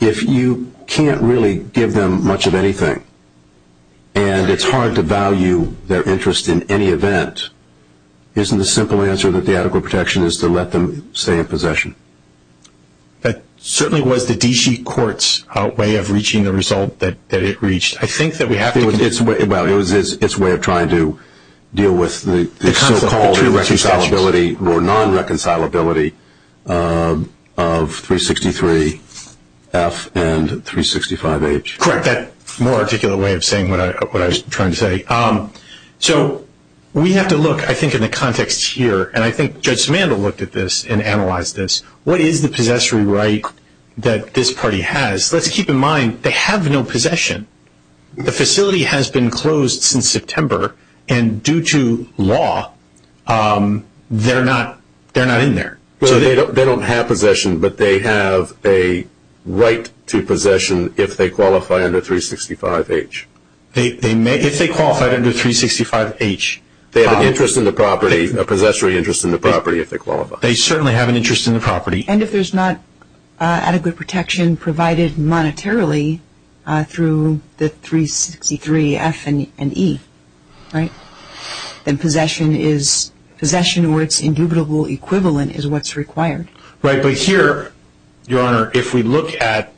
if you can't really give them much of anything and it's hard to value their interest in any event, isn't the simple answer that the adequate protection is to let them stay in possession? That certainly was the D.C. court's way of reaching the result that it reached. I think that we have to be— Well, it was its way of trying to deal with the so-called irreconcilability or non-reconcilability of 363F and 365H. Correct. That's a more articulate way of saying what I was trying to say. So we have to look, I think, in the context here, and I think Judge Samandl looked at this and analyzed this. What is the possessory right that this party has? But to keep in mind, they have no possession. The facility has been closed since September, and due to law, they're not in there. They don't have possession, but they have a right to possession if they qualify under 365H. If they qualify under 365H, they have an interest in the property, a possessory interest in the property if they qualify. They certainly have an interest in the property. And if there's not adequate protection provided monetarily through the 363F and E, right? Then possession is—possession or its indubitable equivalent is what's required. Right, but here, Your Honor, if we look at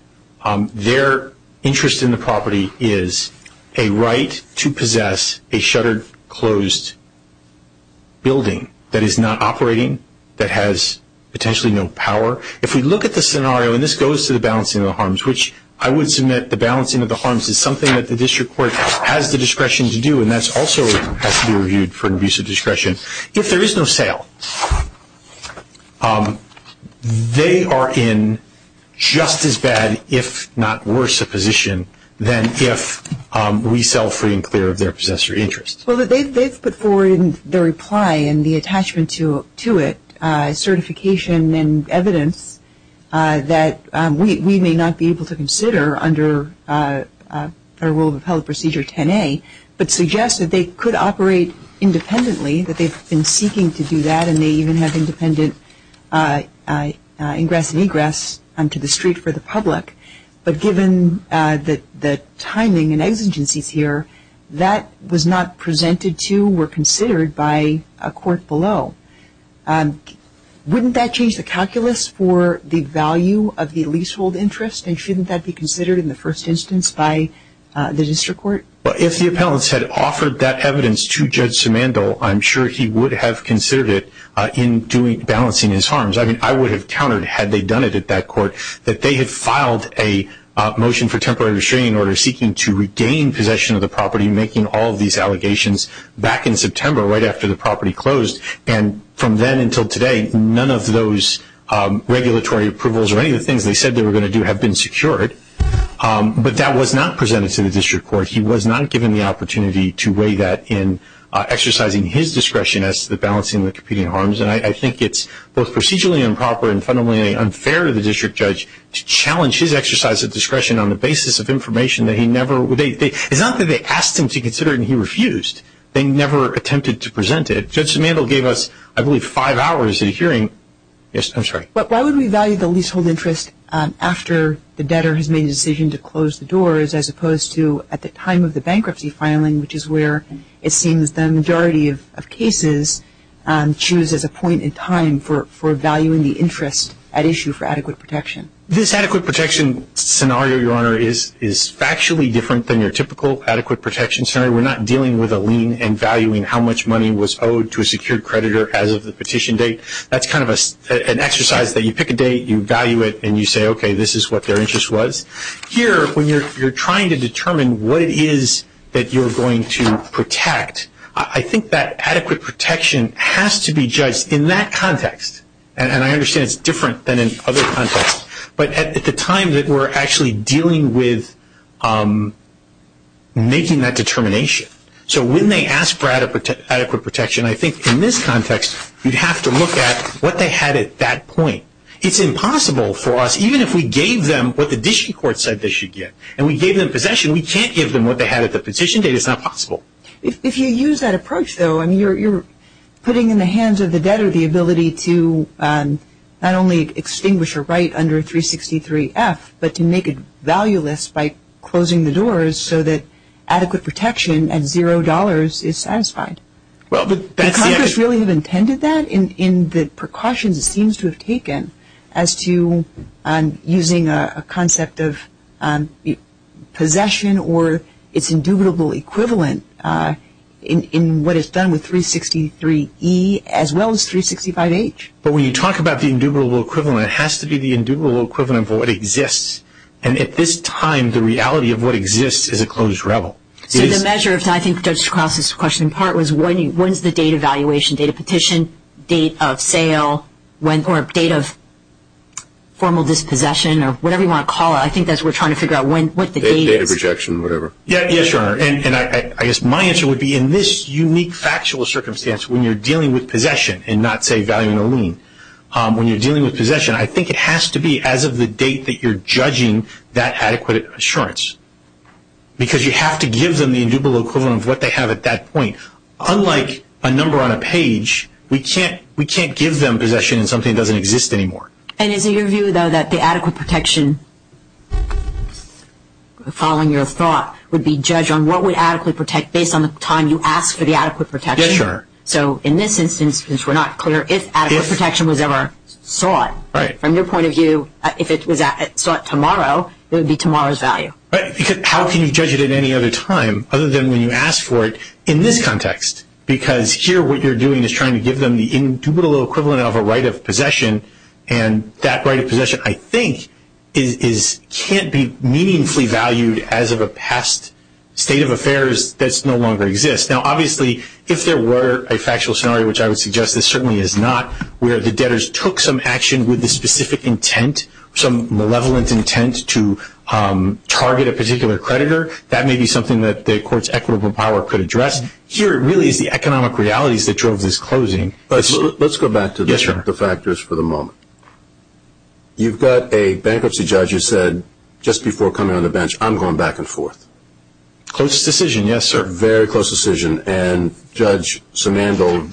their interest in the property is a right to possess a shuttered, closed building that is not operating, that has potentially no power. If we look at the scenario, and this goes to the balancing of the harms, which I would submit the balancing of the harms is something that the district court has the discretion to do, and that also has to be reviewed for an abuse of discretion. If there is no sale, they are in just as bad, if not worse, a position than if we sell free and clear of their possessory interest. Well, they've put forward in their reply and the attachment to it certification and evidence that we may not be able to consider under our rule of appellate procedure 10A, but suggest that they could operate independently, that they've been seeking to do that, and they even have independent ingress and egress to the street for the public. But given the timing and exigencies here, that was not presented to or considered by a court below. Wouldn't that change the calculus for the value of the leasehold interest, and shouldn't that be considered in the first instance by the district court? Well, if the appellants had offered that evidence to Judge Simandole, I'm sure he would have considered it in balancing his harms. I mean, I would have countered, had they done it at that court, that they had filed a motion for temporary restraining order seeking to regain possession of the property, making all of these allegations back in September right after the property closed, and from then until today, none of those regulatory approvals or any of the things they said they were going to do have been secured. But that was not presented to the district court. He was not given the opportunity to weigh that in exercising his discretion as to the balancing of the competing harms, and I think it's both procedurally improper and fundamentally unfair to the district judge to challenge his exercise of discretion on the basis of information that he never – it's not that they asked him to consider it and he refused. They never attempted to present it. Judge Simandole gave us, I believe, five hours in a hearing. Yes, I'm sorry. Why would we value the leasehold interest after the debtor has made a decision to close the doors, as opposed to at the time of the bankruptcy filing, which is where it seems the majority of cases choose as a point in time for valuing the interest at issue for adequate protection? This adequate protection scenario, Your Honor, is factually different than your typical adequate protection scenario. We're not dealing with a lien and valuing how much money was owed to a secured creditor as of the petition date. That's kind of an exercise that you pick a date, you value it, and you say, okay, this is what their interest was. Here, when you're trying to determine what it is that you're going to protect, I think that adequate protection has to be judged in that context, and I understand it's different than in other contexts, but at the time that we're actually dealing with making that determination. So when they ask for adequate protection, I think in this context you'd have to look at what they had at that point. It's impossible for us, even if we gave them what the district court said they should get, and we gave them possession, we can't give them what they had at the petition date. It's not possible. If you use that approach, though, you're putting in the hands of the debtor the ability to not only extinguish her right under 363-F, but to make it valueless by closing the doors so that adequate protection at zero dollars is satisfied. Did Congress really have intended that in the precautions it seems to have taken as to using a concept of possession or its indubitable equivalent in what is done with 363-E as well as 365-H? When you talk about the indubitable equivalent, it has to be the indubitable equivalent of what exists, and at this time the reality of what exists is a closed revel. The measure, if I can just cross this question apart, was when is the date of valuation, date of petition, date of sale, or date of formal dispossession or whatever you want to call it. I think that's what we're trying to figure out. Date of rejection, whatever. Yes, Your Honor, and I guess my answer would be in this unique factual circumstance when you're dealing with possession and not, say, valuing a lien, when you're dealing with possession, I think it has to be as of the date that you're judging that adequate assurance because you have to give them the indubitable equivalent of what they have at that point. Unlike a number on a page, we can't give them possession of something that doesn't exist anymore. And is it your view, though, that the adequate protection, following your thought, would be judged on what would adequately protect based on the time you asked for the adequate protection? Yes, Your Honor. So in this instance, since we're not clear, if adequate protection was ever sought, from your point of view, if it's sought tomorrow, it would be tomorrow's value. How can you judge it at any other time other than when you ask for it in this context? Because here what you're doing is trying to give them the indubitable equivalent of a right of possession, and that right of possession, I think, can't be meaningfully valued as of a past state of affairs that no longer exists. Now, obviously, if there were a factual scenario, which I would suggest this certainly is not, where the debtors took some action with a specific intent, some malevolent intent to target a particular creditor, that may be something that the court's equitable power could address. Here, it really is the economic realities that drove this closing. Let's go back to the factors for the moment. You've got a bankruptcy judge who said just before coming on the bench, I'm going back and forth. Close decision, yes, sir. Very close decision. And Judge Simando,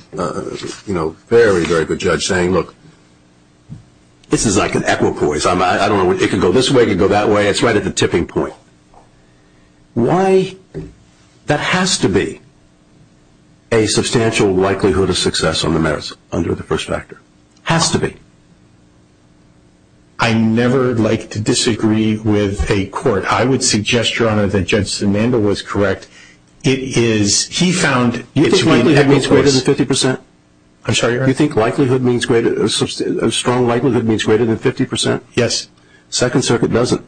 you know, very, very good judge, saying, look, this is like an equipoise. I don't know. It can go this way, it can go that way. It's right at the tipping point. Why? That has to be a substantial likelihood of success on the merits under the first factor. Has to be. I never like to disagree with a court. I would suggest, Your Honor, that Judge Simando was correct. It is, he found. You think likelihood means greater than 50%? I'm sorry, Your Honor? You think likelihood means greater, a strong likelihood means greater than 50%? Yes. Second Circuit doesn't.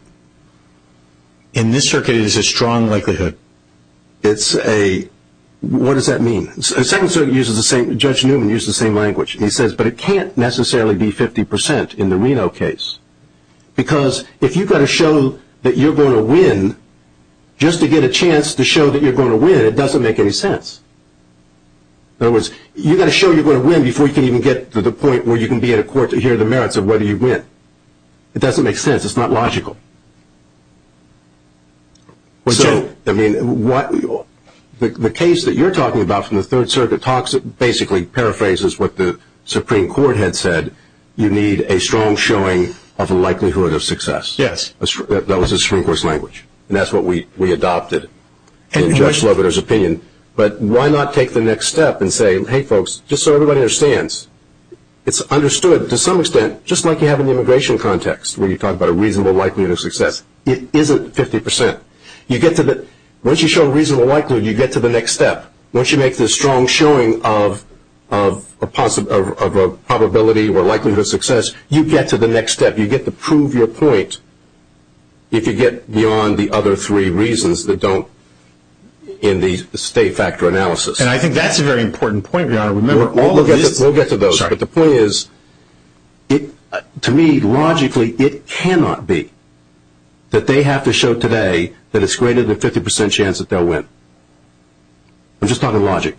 In this circuit, it is a strong likelihood. It's a, what does that mean? Second Circuit uses the same, Judge Newman used the same language. He says, but it can't necessarily be 50% in the Reno case. Because if you've got to show that you're going to win, just to get a chance to show that you're going to win, it doesn't make any sense. In other words, you've got to show you're going to win before you can even get to the point where you can be in a court to hear the merits of whether you win. It doesn't make sense. It's not logical. So, I mean, the case that you're talking about from the Third Circuit talks, basically paraphrases what the Supreme Court had said, you need a strong showing of the likelihood of success. Yes. That was the Supreme Court's language. And that's what we adopted in Judge Newman's opinion. But why not take the next step and say, hey, folks, just so everybody understands, it's understood to some extent, just like you have in the immigration context, where you talk about a reasonable likelihood of success. It isn't 50%. Once you show reasonable likelihood, you get to the next step. Once you make the strong showing of a probability or likelihood of success, you get to the next step. You get to prove your point if you get beyond the other three reasons that don't in the state factor analysis. And I think that's a very important point. We'll get to those. But the point is, to me, logically, it cannot be that they have to show today that it's greater than 50% chance that they'll win. I'm just talking logic.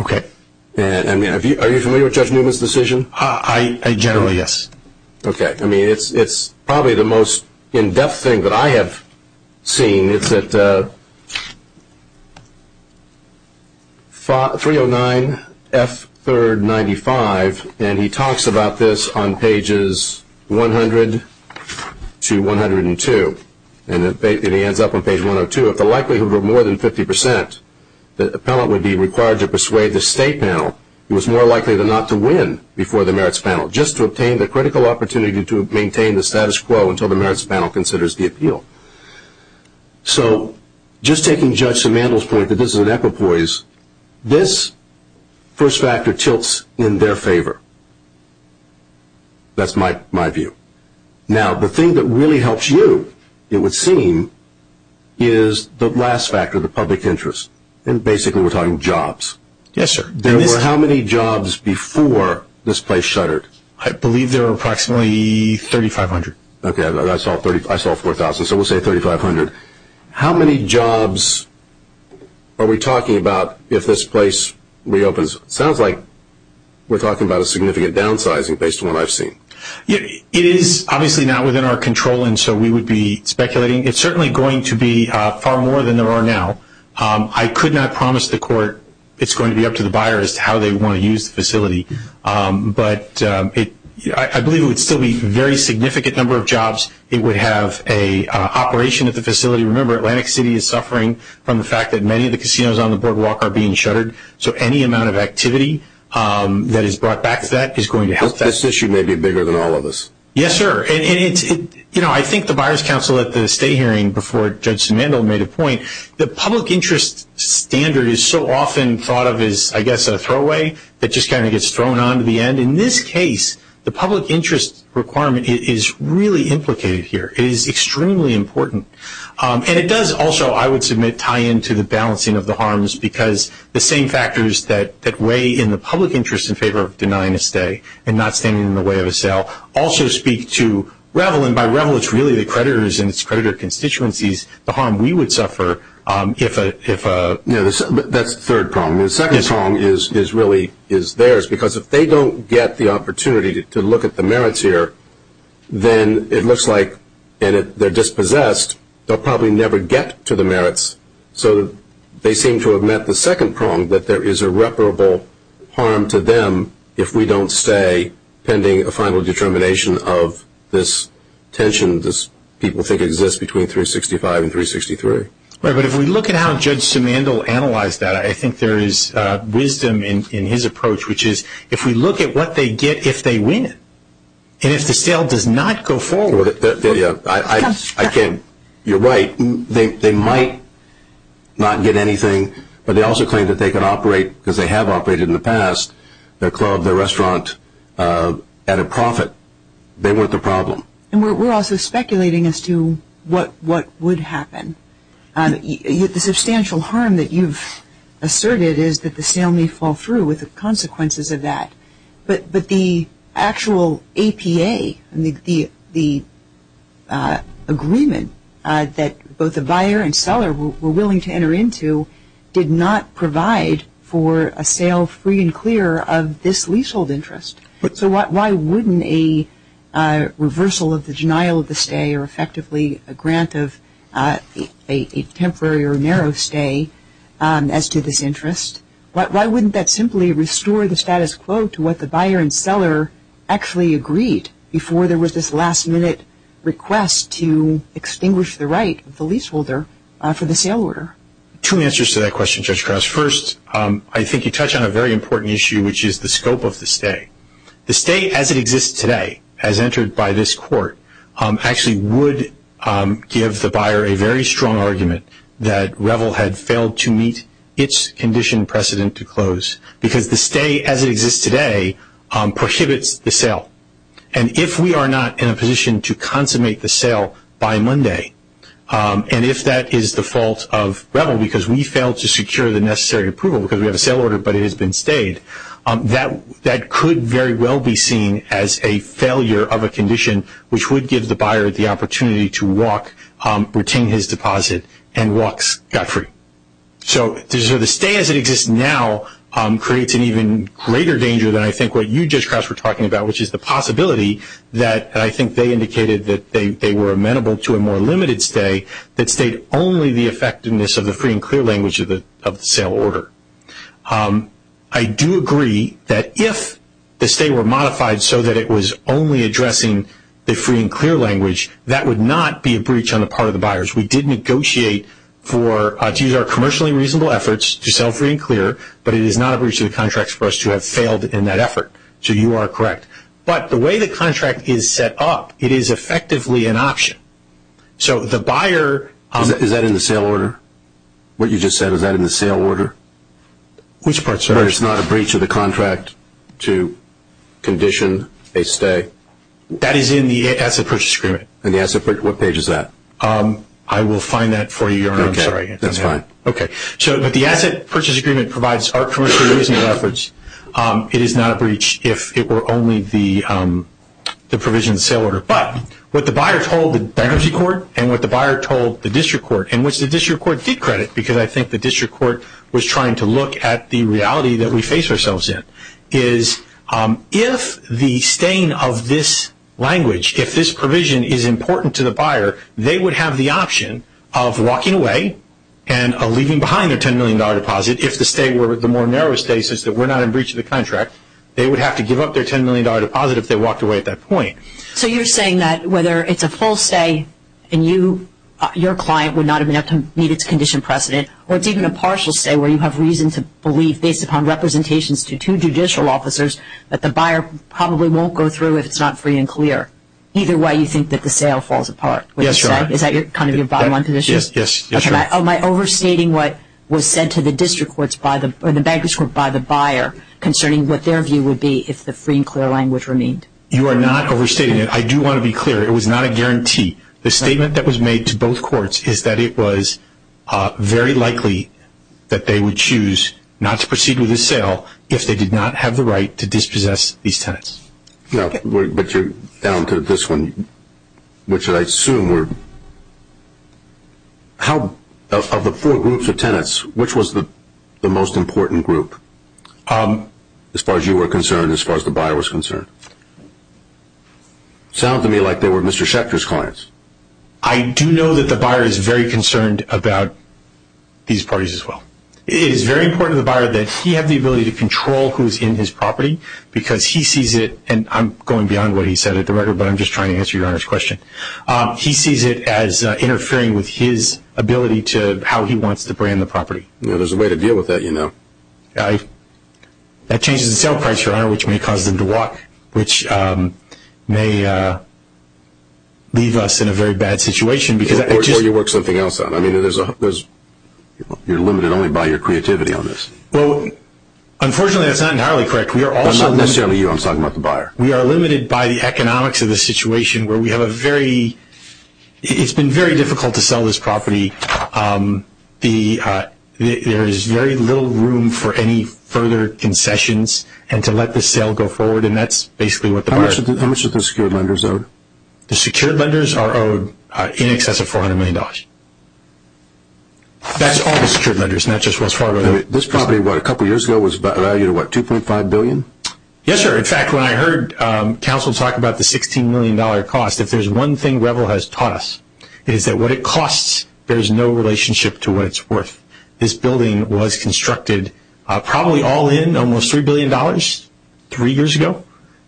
Okay. Are you familiar with Judge Newman's decision? I generally, yes. Okay. I mean, it's probably the most in-depth thing that I have seen. It's at 309F395, and he talks about this on pages 100 to 102. And it ends up on page 102. If the likelihood were more than 50%, the appellant would be required to persuade the state panel, who is more likely than not to win before the merits panel, just to obtain the critical opportunity to maintain the status quo until the merits panel considers the appeal. So just taking Judge Simandl's point that this is an equipoise, this first factor tilts in their favor. That's my view. Now, the thing that really helps you, it would seem, is the last factor, the public interest. And basically we're talking jobs. Yes, sir. There were how many jobs before this place shuttered? I believe there were approximately 3,500. Okay. I saw 4,000, so we'll say 3,500. How many jobs are we talking about if this place reopens? It sounds like we're talking about a significant downsizing based on what I've seen. It is obviously not within our control, and so we would be speculating. It's certainly going to be far more than there are now. I could not promise the court it's going to be up to the buyer as to how they want to use the facility. But I believe it would still be a very significant number of jobs. It would have an operation at the facility. Remember, Atlantic City is suffering from the fact that many of the casinos on the Boardwalk are being shuttered. So any amount of activity that is brought back to that is going to help that. I guess this issue may be bigger than all of this. Yes, sir. And, you know, I think the buyer's counsel at the stay hearing before Judge Simandoe made a point, the public interest standard is so often thought of as, I guess, a throwaway. It just kind of gets thrown onto the end. In this case, the public interest requirement is really implicated here. It is extremely important. And it does also, I would submit, tie into the balancing of the harms because the same factors that weigh in the public interest in favor of denying a stay and not standing in the way of a sale also speak to Revell, and by Revell it's really the creditors and its creditor constituencies, the harm we would suffer if a, you know, that third prong. The second prong is really theirs because if they don't get the opportunity to look at the merits here, then it looks like they're dispossessed, they'll probably never get to the merits. So they seem to have met the second prong that there is irreparable harm to them if we don't stay pending a final determination of this tension that people think exists between 365 and 363. Right, but if we look at how Judge Simandoe analyzed that, I think there is wisdom in his approach, which is if we look at what they get if they win and if the sale does not go forward. I think you're right. They might not get anything, but they also claim that they can operate, because they have operated in the past, their club, their restaurant at a profit. They weren't the problem. And we're also speculating as to what would happen. The substantial harm that you've asserted is that the sale may fall through with the consequences of that. But the actual APA, the agreement that both the buyer and seller were willing to enter into, did not provide for a sale free and clear of this leasehold interest. So why wouldn't a reversal of the denial of the stay or effectively a grant of a temporary or narrow stay as to this interest, why wouldn't that simply restore the status quo to what the buyer and seller actually agreed before there was this last-minute request to extinguish the right of the leaseholder for the sale order? Two answers to that question, Judge Cross. First, I think you touch on a very important issue, which is the scope of the stay. The stay as it exists today, as entered by this court, actually would give the buyer a very strong argument that Revel had failed to meet its condition precedent to close, because the stay as it exists today prohibits the sale. And if we are not in a position to consummate the sale by Monday, and if that is the fault of Revel, because we failed to secure the necessary approval because we have a sale order but it has been stayed, that could very well be seen as a failure of a condition, which would give the buyer the opportunity to walk, retain his deposit, and walk scot-free. So the stay as it exists now creates an even greater danger than I think what you, Judge Cross, were talking about, which is the possibility that I think they indicated that they were amenable to a more limited stay that stayed only the effectiveness of the free and clear language of the sale order. I do agree that if the stay were modified so that it was only addressing the free and clear language, that would not be a breach on the part of the buyers. We did negotiate for, these are commercially reasonable efforts to sell free and clear, but it is not a breach of the contract for us to have failed in that effort. So you are correct. But the way the contract is set up, it is effectively an option. So the buyer- Is that in the sale order? What you just said, is that in the sale order? Which part, sir? Where it's not a breach of the contract to condition a stay? That is in the asset purchase agreement. In the asset, what page is that? I will find that for you, Your Honor, I'm sorry. That's fine. Okay. So the asset purchase agreement provides our commercially reasonable efforts. It is not a breach if it were only the provision of the sale order. But what the buyer told the bankruptcy court and what the buyer told the district court, and which the district court decredited, because I think the district court was trying to look at the reality that we face ourselves in, is if the staying of this language, if this provision is important to the buyer, they would have the option of walking away and leaving behind a $10 million deposit if the stay were the more narrow stay, since we're not in breach of the contract. They would have to give up their $10 million deposit if they walked away at that point. So you're saying that whether it's a full stay, and your client would not have needed to condition precedent, or it's even a partial stay where you have reason to believe, based upon representations to two judicial officers, that the buyer probably won't go through if it's not free and clear. Either way, you think that the sale falls apart. Yes, Your Honor. Is that kind of your bottom line position? Yes. Am I overstating what was said to the district courts or the bankruptcy court by the buyer concerning what their view would be if the free and clear language remained? You are not overstating it. I do want to be clear. It was not a guarantee. The statement that was made to both courts is that it was very likely that they would choose not to proceed with the sale if they did not have the right to dispossess these tenants. But you're down to this one, which I assume were – of the four groups of tenants, which was the most important group as far as you were concerned and as far as the buyer was concerned. It sounds to me like they were Mr. Schechter's clients. I do know that the buyer is very concerned about these parties as well. It is very important to the buyer that he have the ability to control who's in his property because he sees it – and I'm going beyond what he said, but I'm just trying to answer Your Honor's question. He sees it as interfering with his ability to how he wants to brand the property. There's a way to deal with that, you know. That changes the sale price, Your Honor, which may cause them to walk, which may leave us in a very bad situation because – Or show you work something else out. I mean, there's – you're limited only by your creativity on this. Well, unfortunately, that's not entirely correct. We are also – I'm not necessarily you. I'm talking about the buyer. We are limited by the economics of the situation where we have a very – it's been very difficult to sell this property. There is very little room for any further concessions and to let the sale go forward, and that's basically what the buyer – How much do the secured lenders owe? The secured lenders are in excess of $400 million. That's all the secured lenders, and that's just what's part of it. This property, what, a couple years ago was valued at, what, $2.5 billion? Yes, sir. In fact, when I heard counsel talk about the $16 million cost, there's one thing Revell has taught us, is that what it costs, there's no relationship to what it's worth. This building was constructed probably all in almost $3 billion three years ago,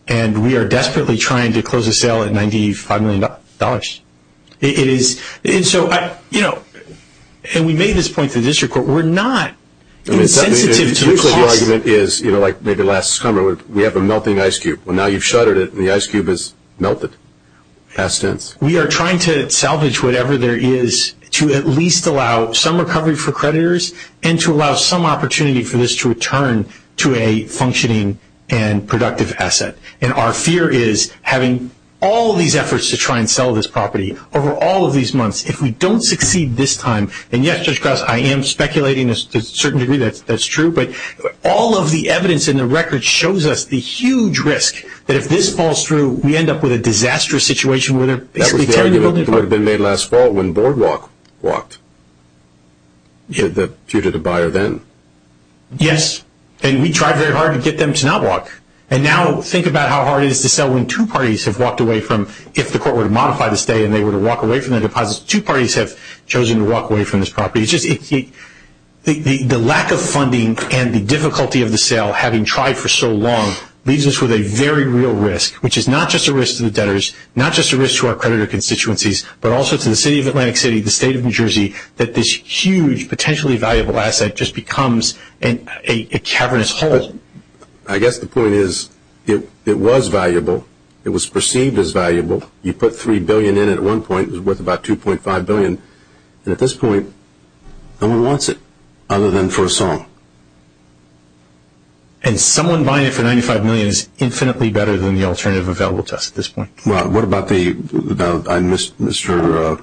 and we are desperately trying to close the sale at $95 million. It is – and so, you know, and we made this point to the district court. We're not – I mean, the argument is, you know, like maybe last summer, we have a melting ice cube. Well, now you've shuttered it, and the ice cube has melted. It makes sense. We are trying to salvage whatever there is to at least allow some recovery for creditors and to allow some opportunity for this to return to a functioning and productive asset, and our fear is having all of these efforts to try and sell this property over all of these months, if we don't succeed this time – and yes, Judge Groth, I am speculating to a certain degree that that's true, but all of the evidence in the record shows us the huge risk that if this falls through, we end up with a disastrous situation where we can't even go to court. That was the argument that had been made last fall when Boardwalk walked to the pew to the buyer then. Yes, and we tried very hard to get them to not walk, and now think about how hard it is to sell when two parties have walked away from – if the court were to modify the stay and they were to walk away from the deposits, two parties have chosen to walk away from this property. The lack of funding and the difficulty of the sale, having tried for so long, leaves us with a very real risk, which is not just a risk to the debtors, not just a risk to our creditor constituencies, but also to the city of Atlantic City, the state of New Jersey, that this huge, potentially valuable asset just becomes a cavernous hole. I guess the point is it was valuable. It was perceived as valuable. You put $3 billion in it at one point. It was worth about $2.5 billion. At this point, no one wants it other than for a song. And someone buying it for $95 million is infinitely better than the alternative available to us at this point. What about the – Mr.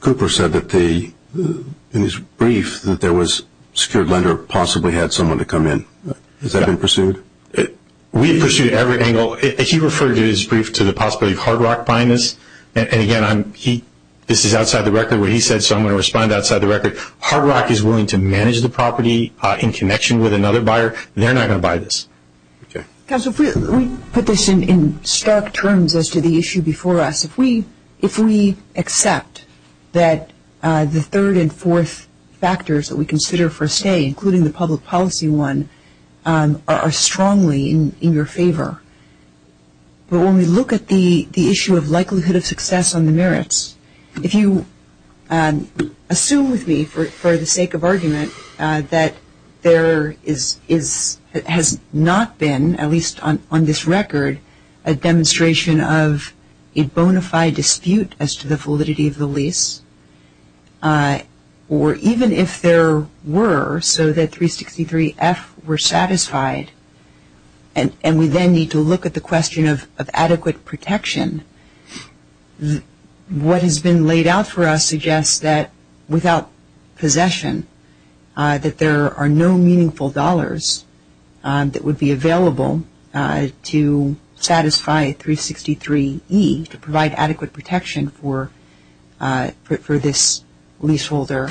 Cooper said that in his brief that there was a secured lender who possibly had someone to come in. Has that been pursued? We have pursued it at every angle. He referred in his brief to the possibility of Hard Rock buying this, and again, this is outside the record what he said, so I'm going to respond outside the record. Hard Rock is willing to manage the property in connection with another buyer. They're not going to buy this. Council, if we put this in stark terms as to the issue before us, if we accept that the third and fourth factors that we consider for a stay, including the public policy one, are strongly in your favor, but when we look at the issue of likelihood of success on the merits, if you assume with me for the sake of argument that there has not been, at least on this record, a demonstration of a bona fide dispute as to the validity of the lease, or even if there were, so that 363F were satisfied, and we then need to look at the question of adequate protection, what has been laid out for us suggests that without possession, that there are no meaningful dollars that would be available to satisfy 363E to provide adequate protection for this leaseholder,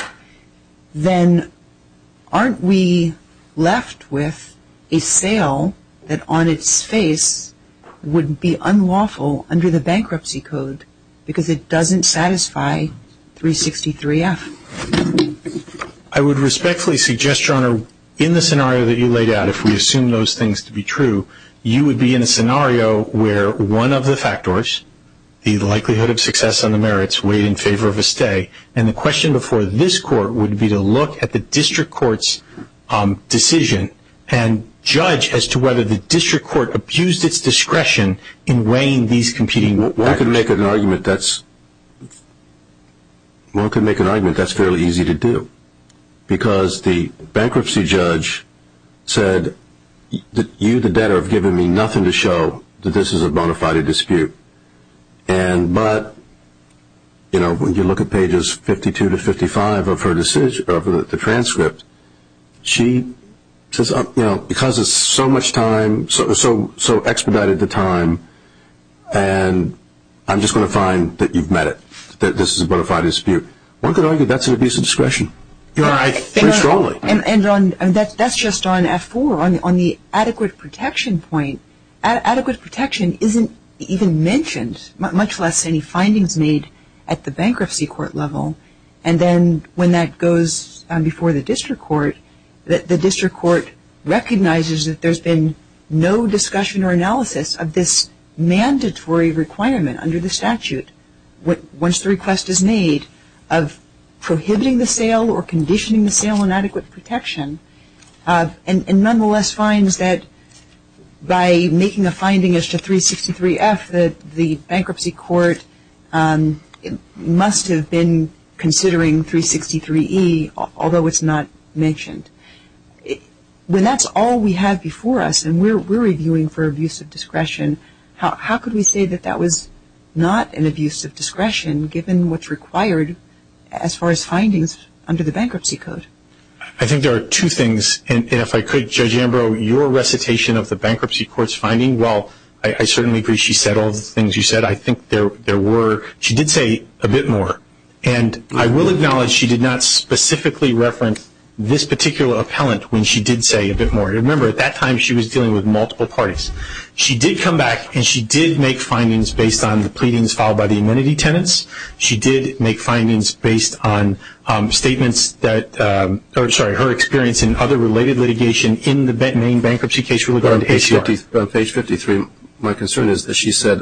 then aren't we left with a sale that on its face would be unlawful under the bankruptcy code because it doesn't satisfy 363F? I would respectfully suggest, Your Honor, in the scenario that you laid out, if we assume those things to be true, you would be in a scenario where one of the factors, the likelihood of success on the merits, weighed in favor of a stay, and the question before this court would be to look at the district court's decision and judge as to whether the district court abused its discretion in weighing these competing... One could make an argument that's fairly easy to do because the bankruptcy judge said that you, the debtor, have given me nothing to show that this is a bona fide dispute, but when you look at pages 52 to 55 of the transcript, because it's so much time, so expedited the time, and I'm just going to find that you've met it, that this is a bona fide dispute. One could argue that's an abuse of discretion. And that's just on F4. On the adequate protection point, adequate protection isn't even mentioned, much less any findings made at the bankruptcy court level, and then when that goes before the district court, the district court recognizes that there's been no discussion or analysis of this mandatory requirement under the statute. Once the request is made of prohibiting the sale or conditioning the sale on adequate protection, and nonetheless finds that by making a finding as to 363F, the bankruptcy court must have been considering 363E, although it's not mentioned. When that's all we have before us, and we're reviewing for abuse of discretion, how could we say that that was not an abuse of discretion, given what's required as far as findings under the bankruptcy code? I think there are two things, and if I could, Judge Ambrose, your recitation of the bankruptcy court's finding, while I certainly agree she said all the things you said, I think there were, she did say a bit more, and I will acknowledge she did not specifically reference this particular appellant when she did say a bit more. Remember, at that time she was dealing with multiple parties. She did come back, and she did make findings based on the pleadings filed by the amenity tenants. She did make findings based on statements that, sorry, her experience in other related litigation in the main bankruptcy case. On page 53, my concern is, as she said,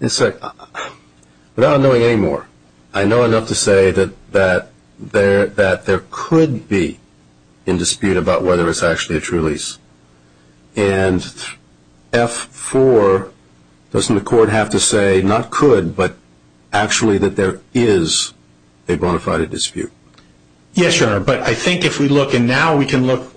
without knowing any more, I know enough to say that there could be in dispute about whether it's actually a true lease. And F4, doesn't the court have to say, not could, but actually that there is a bona fide dispute? Yes, Your Honor, but I think if we look, and now we can look,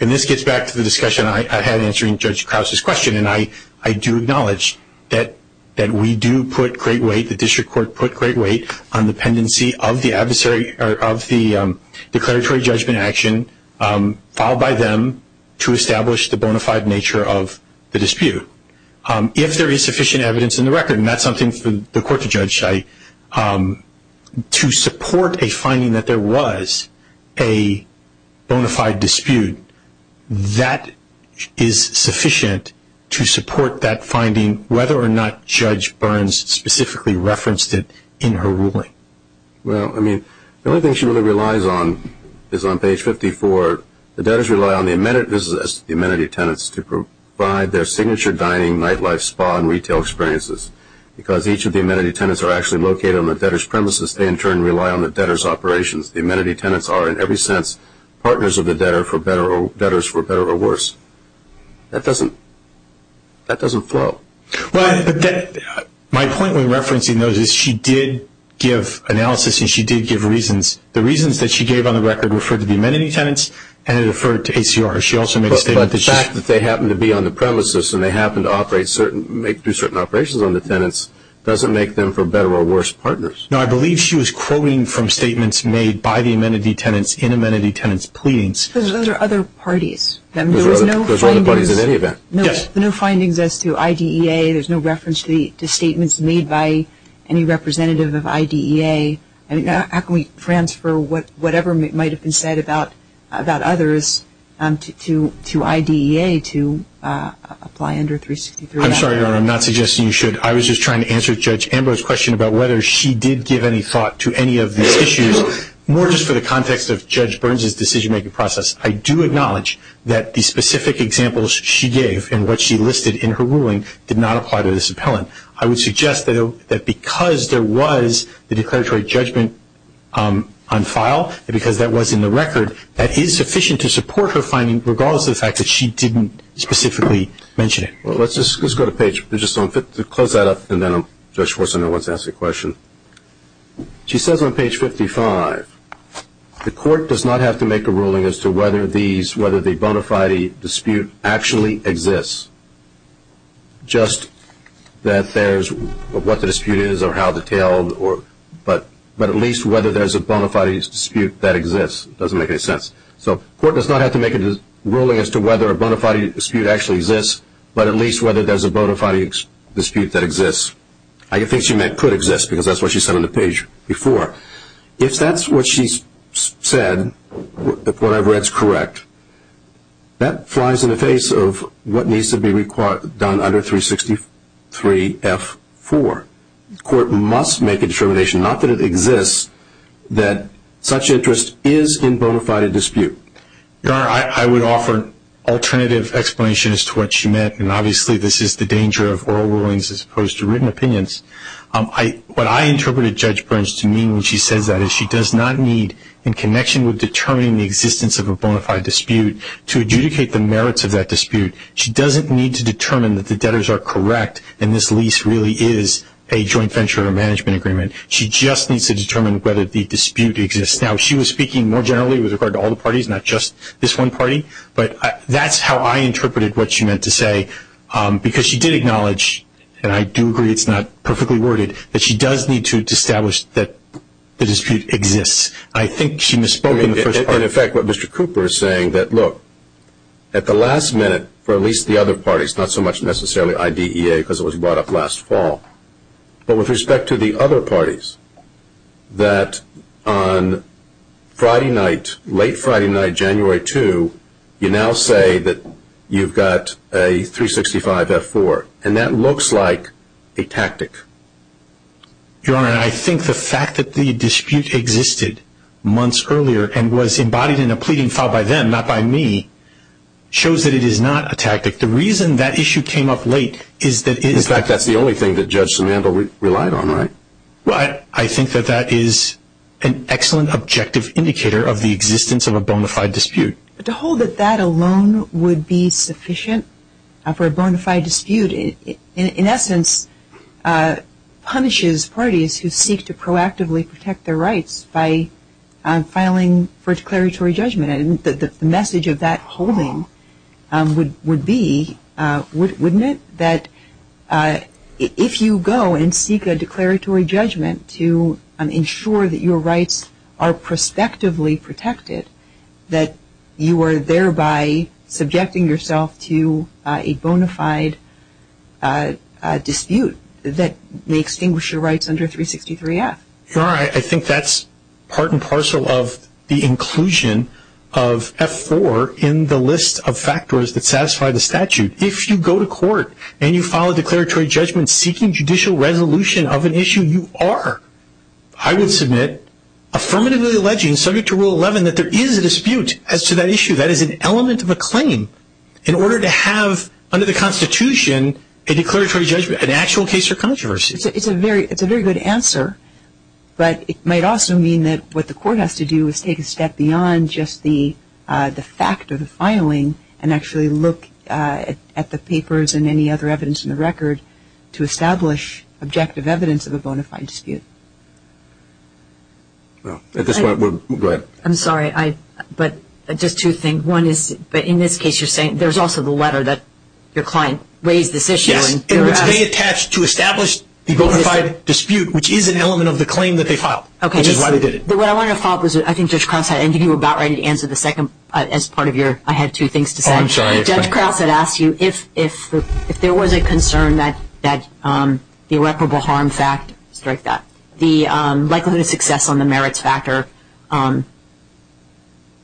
and this gets back to the discussion I had answering Judge Krause's question, and I do acknowledge that we do put great weight, the district court put great weight on dependency of the adversary, of the declaratory judgment action filed by them to establish the bona fide nature of the dispute. If there is sufficient evidence in the record, and that's something the court to judge cite, to support a finding that there was a bona fide dispute, that is sufficient to support that finding, whether or not Judge Burns specifically referenced it in her ruling. Well, I mean, the only thing she really relies on is on page 54, the debtors rely on the amenity tenants to provide their signature dining, nightlife, spa, and retail experiences. Because each of the amenity tenants are actually located on the debtor's premises, they in turn rely on the debtor's operations. The amenity tenants are, in every sense, partners of the debtor for better or worse. That doesn't flow. My point when referencing those is she did give analysis, and she did give reasons. The reasons that she gave on the record referred to the amenity tenants, and it referred to ACR. But the fact that they happen to be on the premises, and they happen to make certain operations on the tenants, doesn't make them for better or worse partners. No, I believe she was quoting from statements made by the amenity tenants in amenity tenants' pleadings. Those are other parties. Those are other parties in any event. No findings as to IDEA. There's no reference to statements made by any representative of IDEA. How can we transfer whatever might have been said about others to IDEA to apply under 363? I'm sorry, Laura. I'm not suggesting you should. I was just trying to answer Judge Ambler's question about whether she did give any thought to any of the issues. More just for the context of Judge Burns' decision-making process, I do acknowledge that the specific examples she gave and what she listed in her ruling did not apply to this appellant. I would suggest that because there was the declaratory judgment on file, because that was in the record, that is sufficient to support her finding regardless of the fact that she didn't specifically mention it. Well, let's just go to page 55. Close that up, and then Judge Corsano wants to ask a question. She says on page 55, the court does not have to make a ruling as to whether the bona fide dispute actually exists, just that there's what the dispute is or how detailed, but at least whether there's a bona fide dispute that exists. It doesn't make any sense. So the court does not have to make a ruling as to whether a bona fide dispute actually exists, but at least whether there's a bona fide dispute that exists. I think she meant could exist, because that's what she said on the page before. If that's what she said, whatever that's correct, that flies in the face of what needs to be done under 363F4. The court must make a determination, not that it exists, that such interest is in bona fide dispute. Your Honor, I would offer alternative explanations to what she meant, and obviously this is the danger of oral rulings as opposed to written opinions. What I interpreted Judge Brent's meaning when she said that is she does not need, in connection with determining the existence of a bona fide dispute, to adjudicate the merits of that dispute. She doesn't need to determine that the debtors are correct and this lease really is a joint venture of a management agreement. She just needs to determine whether the dispute exists. Now, she was speaking more generally. It was regarding all the parties, not just this one party, but that's how I interpreted what she meant to say, because she did acknowledge, and I do agree it's not perfectly worded, that she does need to establish that the dispute exists. I think she misspoke in the first part. In effect, what Mr. Cooper is saying that, look, at the last minute, for at least the other parties, not so much necessarily IDEA because it was brought up last fall, but with respect to the other parties, that on Friday night, late Friday night, January 2, you now say that you've got a 365-F4, and that looks like a tactic. Your Honor, I think the fact that the dispute existed months earlier and was embodied in a pleading file by them, not by me, shows that it is not a tactic. The reason that issue came up late is that it is... In fact, that's the only thing that Judge Samantha relied on, right? Well, I think that that is an excellent objective indicator of the existence of a bona fide dispute. To hold that that alone would be sufficient for a bona fide dispute, in essence, punishes parties who seek to proactively protect their rights by filing for declaratory judgment. The message of that holding would be, wouldn't it, that if you go and seek a declaratory judgment to ensure that your rights are prospectively protected, that you are thereby subjecting yourself to a bona fide dispute that may extinguish your rights under 363-F? Your Honor, I think that's part and parcel of the inclusion of F4 in the list of factors that satisfy the statute. If you go to court and you file a declaratory judgment seeking judicial resolution of an issue, you are, I would submit, affirmatively alleging, subject to Rule 11, that there is a dispute as to that issue. That is an element of a claim. In order to have, under the Constitution, a declaratory judgment, an actual case or controversy. It's a very good answer, but it might also mean that what the court has to do is take a step beyond just the fact of the filing and actually look at the papers and any other evidence in the record to establish objective evidence of a bona fide dispute. At this point, we'll go ahead. I'm sorry, but just two things. One is, in this case, you're saying there's also the letter that your client raised this issue. Yes. They attached to establish the bona fide dispute, which is an element of the claim that they filed. Okay. Which is why they did it. What I wanted to follow up was, I think Judge Krause had, and if you were about ready to answer the second, as part of your, I had two things to say. Oh, I'm sorry. Judge Krause had asked you if there was a concern that the irreparable harm fact, the likelihood of success on the merits factor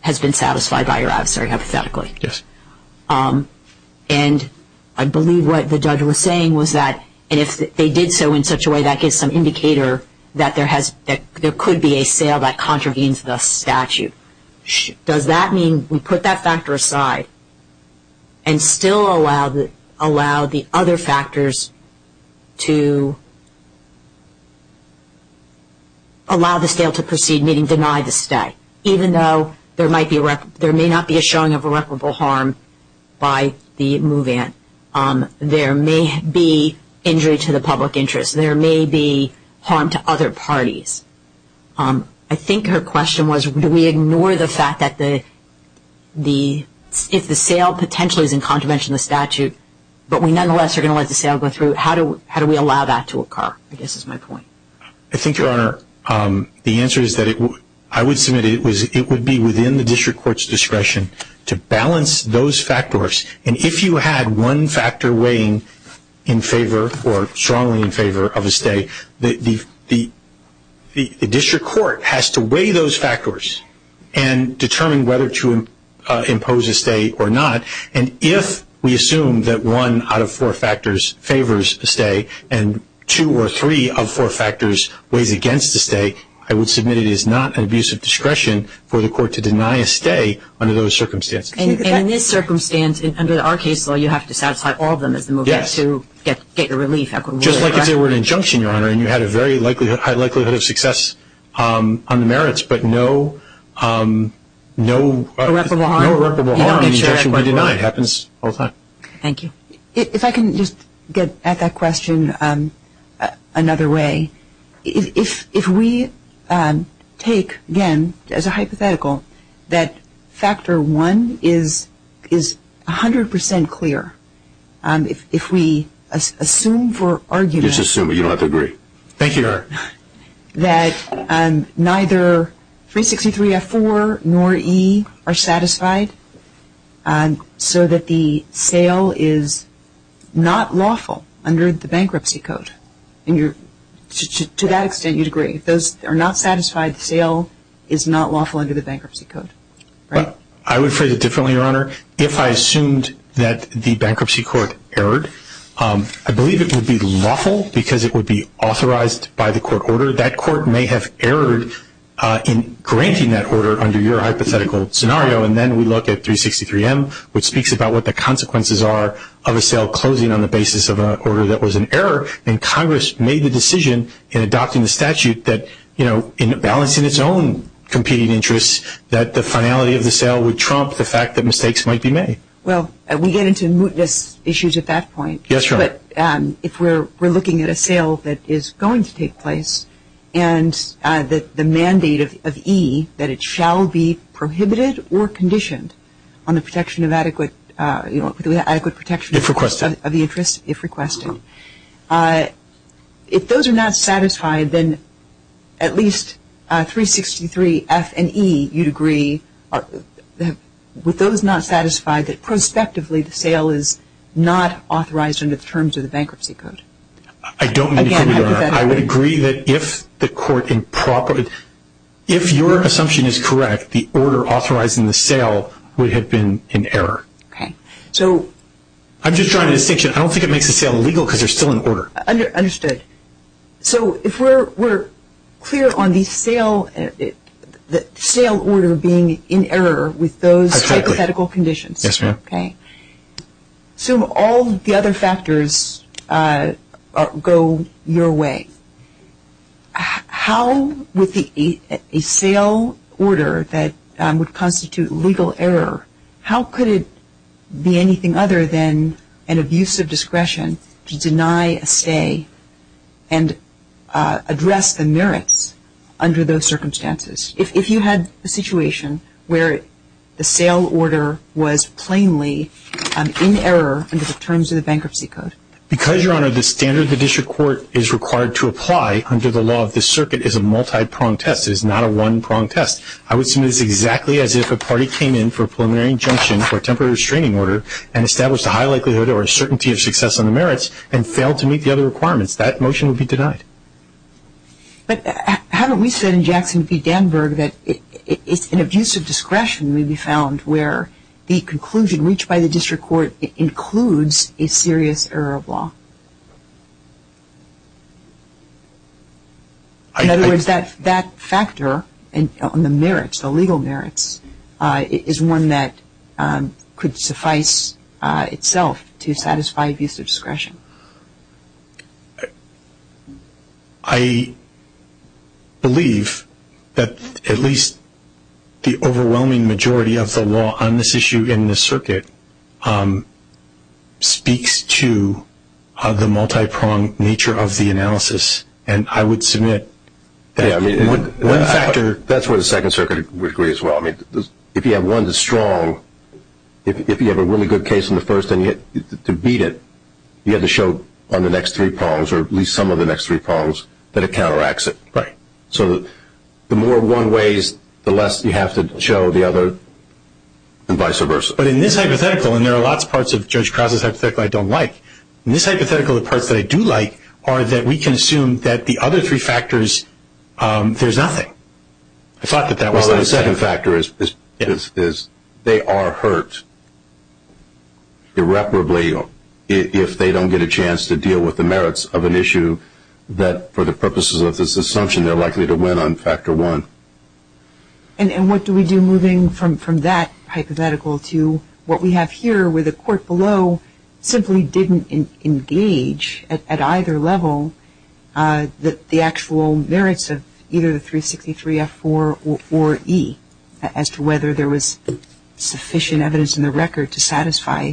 has been satisfied by your adversary, hypothetically. Yes. And I believe what the judge was saying was that if they did so in such a way, that gives some indicator that there could be a sale that contravenes the statute. Does that mean we put that factor aside and still allow the other factors to allow the sale to proceed, meaning deny the stay, even though there may not be a showing of irreparable harm by the move-in? There may be injury to the public interest. There may be harm to other parties. I think her question was, do we ignore the fact that if the sale potentially is in contravention of the statute, but we nonetheless are going to let the sale go through, how do we allow that to occur? I guess that's my point. I think, Your Honor, the answer is that I would submit it would be within the district court's discretion to balance those factors. And if you had one factor weighing in favor or strongly in favor of a stay, the district court has to weigh those factors and determine whether to impose a stay or not. And if we assume that one out of four factors favors a stay and two or three of four factors weighed against a stay, I would submit it is not an abuse of discretion for the court to deny a stay under those circumstances. In this circumstance, under our case law, you have to satisfy all of them at the move-in to get relief. Just like if you were an injunction, Your Honor, and you had a very high likelihood of success on the merits, but no irreparable harm in the injunction would be denied. It happens all the time. Thank you. If I can just get at that question another way. If we take, again, as a hypothetical, that factor one is 100% clear. If we assume for argument that neither 363F4 nor E are satisfied, so that the sale is not lawful under the bankruptcy code, to that extent you'd agree. If those are not satisfied, the sale is not lawful under the bankruptcy code, right? I would phrase it differently, Your Honor. If I assumed that the bankruptcy court erred, I believe it would be lawful because it would be authorized by the court order. That court may have erred in granting that order under your hypothetical scenario, and then we look at 363M, which speaks about what the consequences are of a sale closing on the basis of an order that was an error, and Congress made the decision in adopting the statute that, you know, in balancing its own competing interests, that the finality of the sale would trump the fact that mistakes might be made. Well, we get into mootness issues at that point. Yes, Your Honor. But if we're looking at a sale that is going to take place, and the mandate of E, that it shall be prohibited or conditioned on the protection of adequate protection of the interest, if requested, if those are not satisfied, then at least 363F and E, you'd agree, would those not satisfy that prospectively the sale is not authorized under the terms of the bankruptcy code? I don't mean that, Your Honor. I would agree that if the court improperly, if your assumption is correct, the order authorizing the sale would have been in error. Okay. So... I'm just drawing a distinction. I don't think it makes the sale legal because there's still an order. Understood. So if we're clear on the sale order being in error with those hypothetical conditions. Yes, Your Honor. Okay. So all the other factors go your way. How would a sale order that would constitute legal error, how could it be anything other than an abuse of discretion to deny a say and address the merits under those circumstances? If you had a situation where the sale order was plainly in error under the terms of the bankruptcy code. Because, Your Honor, the standard the district court is required to apply under the law of the circuit is a multi-pronged test. I would submit it exactly as if a party came in for a preliminary injunction for a temporary restraining order and established a high likelihood or a certainty of success on the merits and failed to meet the other requirements. That motion would be denied. But haven't we said in Jackson v. Danburg that it's an abuse of discretion that we found where the conclusion reached by the district court includes a serious error of law? In other words, that factor on the merits, the legal merits, is one that could suffice itself to satisfy abuse of discretion. I believe that at least the overwhelming majority of the law on this issue in the circuit speaks to the multi-pronged nature of the analysis. And I would submit that one factor... That's where the Second Circuit would agree as well. I mean, if you have one that's strong, if you have a really good case in the first thing to beat it, you have to show on the next three prongs, or at least some of the next three prongs, that it counteracts it. Right. So the more one weighs, the less you have to show the other, and vice versa. But in this hypothetical, and there are lots of parts of Judge Krause's hypothetical I don't like, in this hypothetical the parts that I do like are that we can assume that the other three factors, there's nothing. Well, the second factor is they are hurt irreparably if they don't get a chance to deal with the merits of an issue that, for the purposes of this assumption, they're likely to win on factor one. And what do we do moving from that hypothetical to what we have here, where the court below simply didn't engage at either level the actual merits of either the 363F4 or E, as to whether there was sufficient evidence in the record to satisfy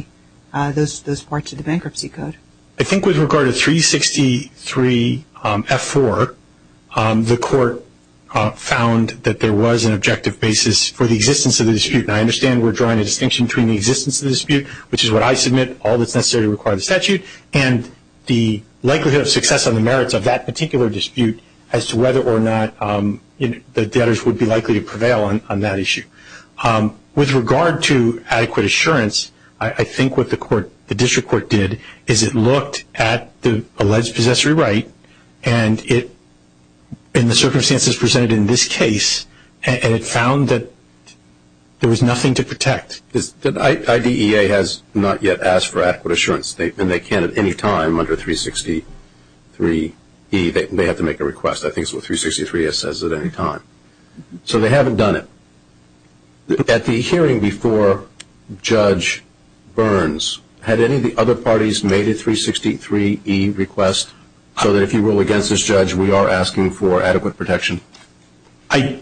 those parts of the bankruptcy code? I think with regard to 363F4, the court found that there was an objective basis for the existence of the dispute. And I understand we're drawing a distinction between the existence of the dispute, which is what I submit, all that's necessary to require the statute, and the likelihood of success on the merits of that particular dispute as to whether or not the debtors would be likely to prevail on that issue. With regard to adequate assurance, I think what the court, the district court did, is it looked at the alleged possessory right, and it, in the circumstances presented in this case, and it found that there was nothing to protect. The IDEA has not yet asked for adequate assurance, and they can at any time under 363E. They have to make a request. I think it's what 363F says, at any time. So they haven't done it. At the hearing before Judge Burns, had any of the other parties made a 363E request, so that if you rule against this judge, we are asking for adequate protection? I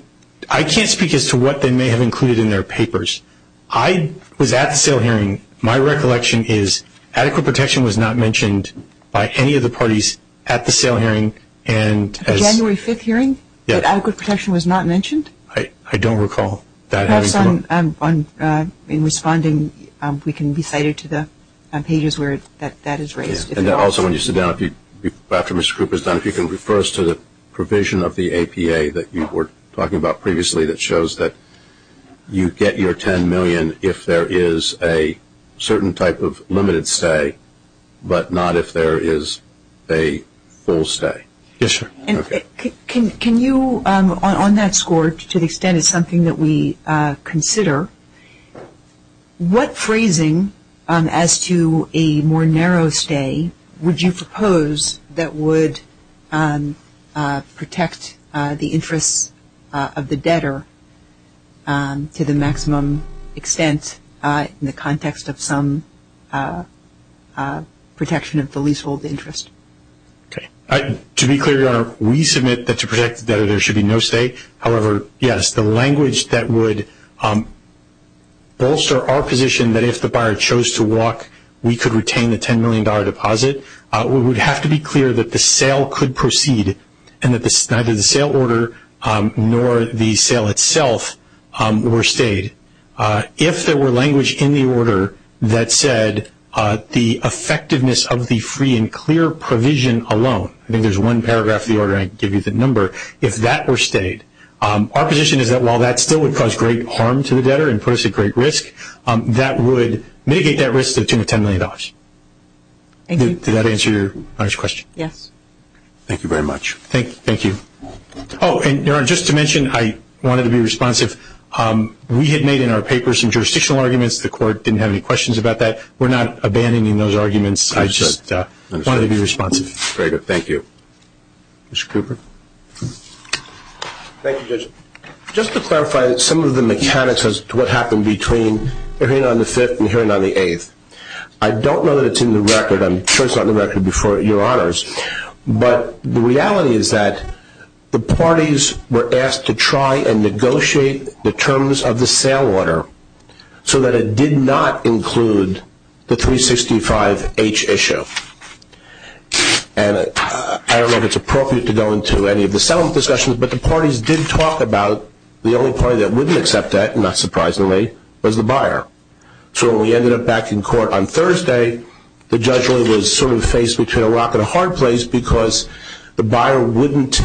can't speak as to what they may have included in their papers. I was at the SAIL hearing. My recollection is adequate protection was not mentioned by any of the parties at the SAIL hearing. At the January 5th hearing? Yes. Adequate protection was not mentioned? I don't recall that. Perhaps in responding, we can be cited to the pages where that is raised. Also, when you sit down, if you can refer us to the provision of the APA that you were talking about previously that shows that you get your $10 million if there is a certain type of limited stay, but not if there is a full stay. Can you, on that score, to the extent it's something that we consider, what phrasing as to a more narrow stay would you propose that would protect the interest of the debtor to the maximum extent in the context of some protection of the leasehold interest? To be clear, Your Honor, we submit that to protect the debtor there should be no stay. However, yes, the language that would bolster our position that if the buyer chose to walk, we could retain a $10 million deposit, we would have to be clear that the SAIL could proceed and that neither the SAIL order nor the SAIL itself were stayed. If there were language in the order that said the effectiveness of the free and clear provision alone, I think there's one paragraph in the order I gave you the number, if that were stayed, our position is that while that still would cause great harm to the debtor and put us at great risk, that would mitigate that risk to the tune of $10 million. Did that answer your question? Yes. Thank you very much. Thank you. Oh, and Your Honor, just to mention, I wanted to be responsive. We had made in our papers some jurisdictional arguments. The court didn't have any questions about that. We're not abandoning those arguments. I just wanted to be responsive. Very good. Thank you. Mr. Cooper? Thank you, Judge. Just to clarify some of the mechanics as to what happened between hearing on the 5th and hearing on the 8th. I don't know that it's in the record. I'm sure it's not in the record before, Your Honors. But the reality is that the parties were asked to try and negotiate the terms of the SAIL order so that it did not include the 365H issue. And I don't know if it's appropriate to go into any of the settlement discussions, but the parties did talk about the only party that wouldn't accept that, not surprisingly, was the buyer. So when we ended up back in court on Thursday, the judge was sort of faced between a rock and a hard place because the buyer wouldn't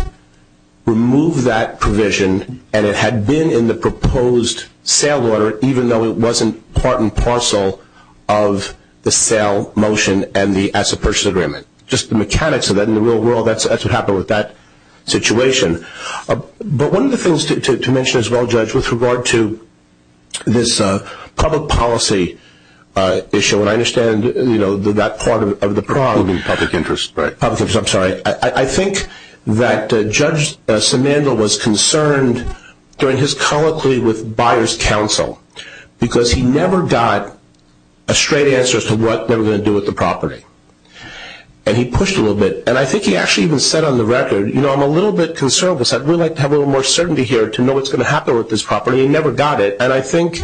remove that provision, and it had been in the proposed SAIL order, even though it wasn't part and parcel of the SAIL motion and the Asset Purchase Agreement. Just the mechanics of that in the real world, that's what happened with that situation. But one of the things to mention as well, Judge, with regard to this public policy issue, and I understand that part of the problem is public interest. I think that Judge Simando was concerned during his colloquy with buyer's counsel because he never got a straight answer as to what they were going to do with the property. And he pushed a little bit. And I think he actually even said on the record, you know, I'm a little bit concerned with this. I'd really like to have a little more certainty here to know what's going to happen with this property. He never got it. And I think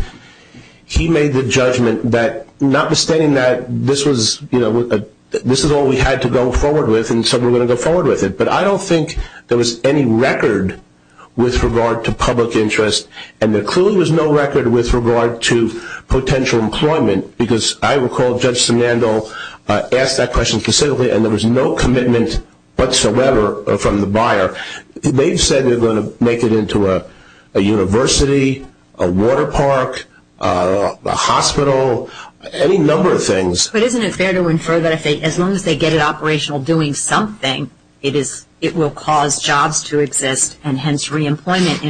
he made the judgment that notwithstanding that this was, you know, this is all we had to go forward with, and so we're going to go forward with it. But I don't think there was any record with regard to public interest, and there clearly was no record with regard to potential employment, because I recall Judge Simando asked that question concisely, and there was no commitment whatsoever from the buyer. They said they were going to make it into a university, a water park, a hospital, any number of things. But isn't it fair to infer that as long as they get it operational doing something, it will cause jobs to exist and hence reemployment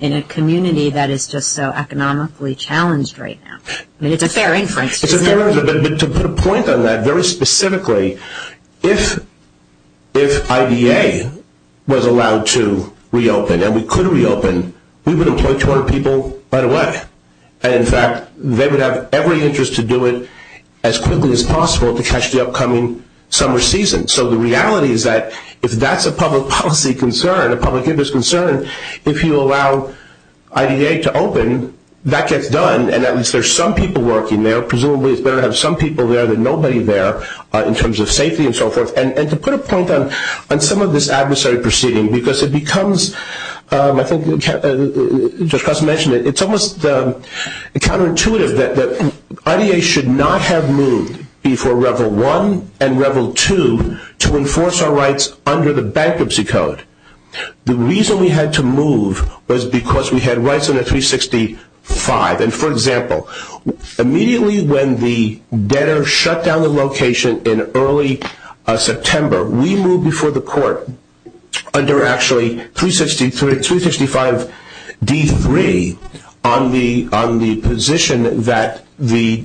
in a community that is just so economically challenged right now? I mean, it's a fair inference. It's a fair inference. But to put a point on that very specifically, if IDA was allowed to reopen and we could reopen, we would employ 200 people right away. In fact, they would have every interest to do it as quickly as possible to catch the upcoming summer season. So the reality is that if that's a public policy concern, a public interest concern, if you allow IDA to open, that gets done, and at least there's some people working there, presumably there are some people there, but nobody there in terms of safety and so forth. And to put a point on some of this adversary proceeding, because it becomes, I think, it's almost counterintuitive that IDA should not have moved before Revel 1 and Revel 2 to enforce our rights under the bankruptcy code. The reason we had to move was because we had rights under 365. And, for example, immediately when the debtor shut down the location in early September, we moved before the court under actually 365 D3 on the position that the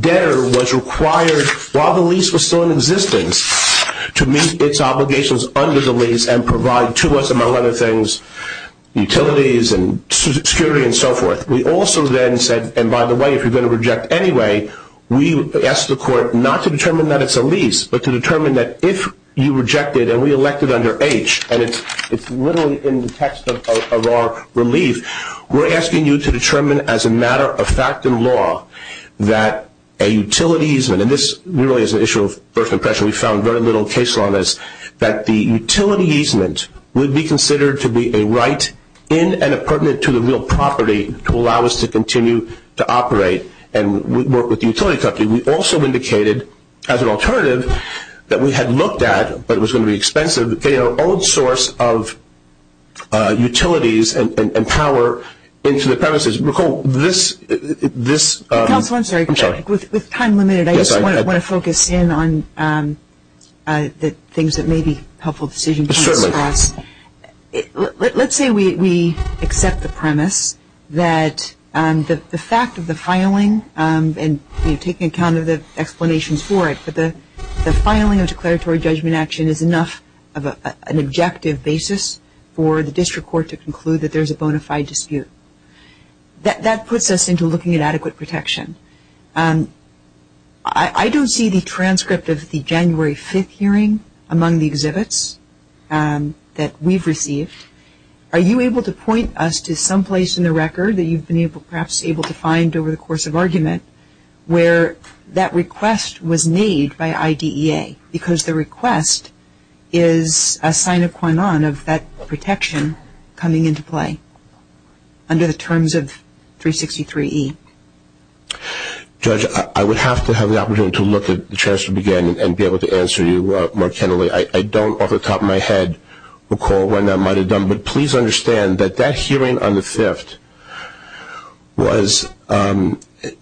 debtor was required, while the lease was still in existence, to meet its obligations under the lease and provide to us, among other things, utilities and security and so forth. We also then said, and by the way, if you're going to reject anyway, we asked the court not to determine that it's a lease, but to determine that if you reject it, and we elected under H, and it's literally in the text of our relief, we're asking you to determine as a matter of fact and law that a utilities, and this really is an issue of first impression, we found very little case law on this, that the utility easement would be considered to be a right in and a permit to the real property to allow us to continue to operate and work with the utility company. We also indicated as an alternative that we had looked at, but it was going to be expensive, to pay our own source of utilities and power into the premises. With time limited, I just want to focus in on the things that may be helpful decisions. Let's say we accept the premise that the fact of the filing, and taking account of the explanations for it, but the filing of declaratory judgment action is enough of an objective basis for the district court to conclude that there's a bona fide dispute. That puts us into looking at adequate protection. I don't see the transcript of the January 5th hearing among the exhibits that we've received. Are you able to point us to someplace in the record that you've been perhaps able to find over the course of argument where that request was made by IDEA, because the request is a sign of that protection coming into play under the terms of 363E? Judge, I would have to have the opportunity to look at the transcript again and be able to answer you more tenderly. I don't off the top of my head recall when I might have done, but please understand that that hearing on the 5th was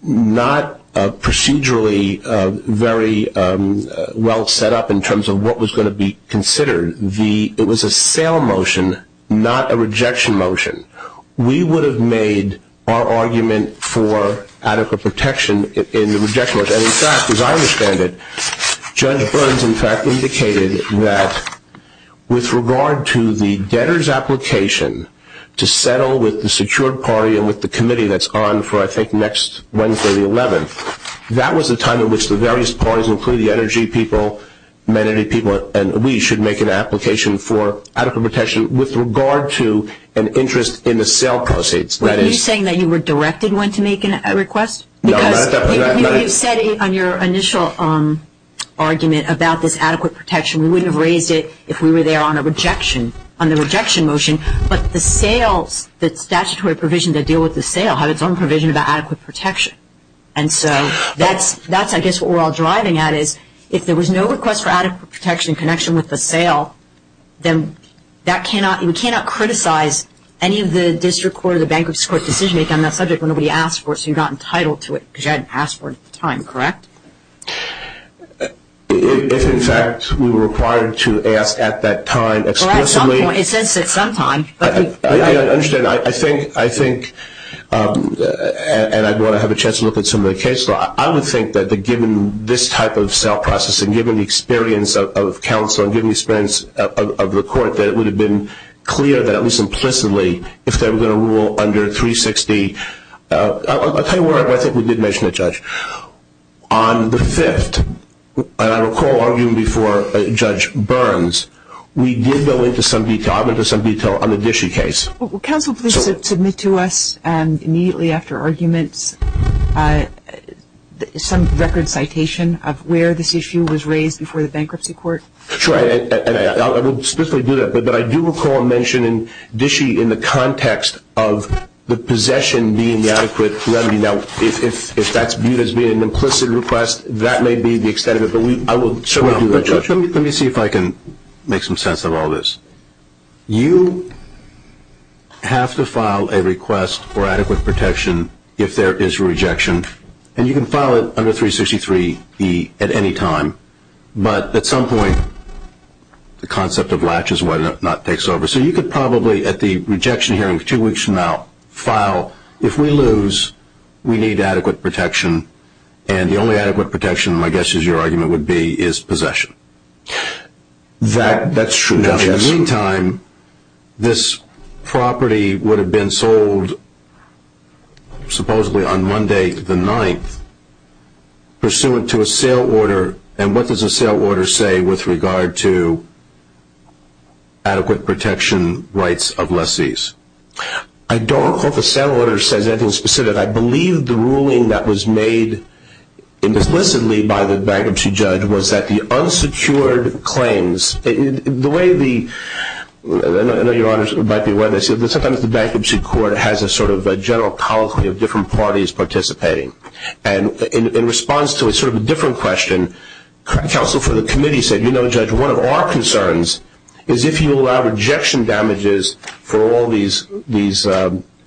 not procedurally very well set up in terms of what was going to be considered. It was a sale motion, not a rejection motion. We would have made our argument for adequate protection in the rejection motion. In fact, as I understand it, Judge Burns, in fact, indicated that with regard to the debtor's application to settle with the secured party and with the committee that's on for, I think, next Wednesday the 11th, that was the time in which the various parties, including the energy people, and we should make an application for adequate protection with regard to an interest in the sale proceeds. Are you saying that you were directed when to make a request? When you said on your initial argument about this adequate protection, we wouldn't have raised it if we were there on a rejection motion, but the sale, the statutory provision to deal with the sale had its own provision about adequate protection. And so that's, I guess, what we're all driving at is if there was no request for adequate protection in connection with the sale, then we cannot criticize any of the district court on that subject when nobody asked for it, so you're not entitled to it because you hadn't asked for it at the time, correct? If, in fact, we were required to ask at that time explicitly. It says at some time. I understand. I think, and I'd want to have a chance to look at some of the case law. I would think that given this type of sale process and given the experience of counsel and given the experience of the court that it would have been clear that at least implicitly if they were going to rule under 360, I'll tell you where I think we did mention the judge. On the 5th, I recall arguing before Judge Burns, we did go into some detail, I went into some detail on the Dishy case. Will counsel please submit to us immediately after argument some record citation of where this issue was raised before the bankruptcy court? Sure. I will specifically do that, but I do recall mentioning Dishy in the context of the possession being adequate. Now, if that's viewed as being an implicit request, that may be the extent of it, but I will certainly do that, Judge. Let me see if I can make some sense of all this. You have to file a request for adequate protection if there is a rejection, and you can file it under 363E at any time, but at some point the concept of latches takes over. So you could probably at the rejection hearing two weeks from now file, if we lose, we need adequate protection, and the only adequate protection, my guess is your argument would be, is possession. That's true. Judge, at no time this property would have been sold, supposedly on Monday the 9th, pursuant to a sale order, and what does a sale order say with regard to adequate protection rights of lessees? I don't recall the sale order saying anything specific. I believe the ruling that was made implicitly by the bankruptcy judge was that the unsecured claims, the way the, I know Your Honors might be aware of this, but sometimes the bankruptcy court has a sort of a general colloquy of different parties participating, and in response to a sort of a different question, counsel for the committee said, you know, Judge, one of our concerns is if you allow rejection damages for all these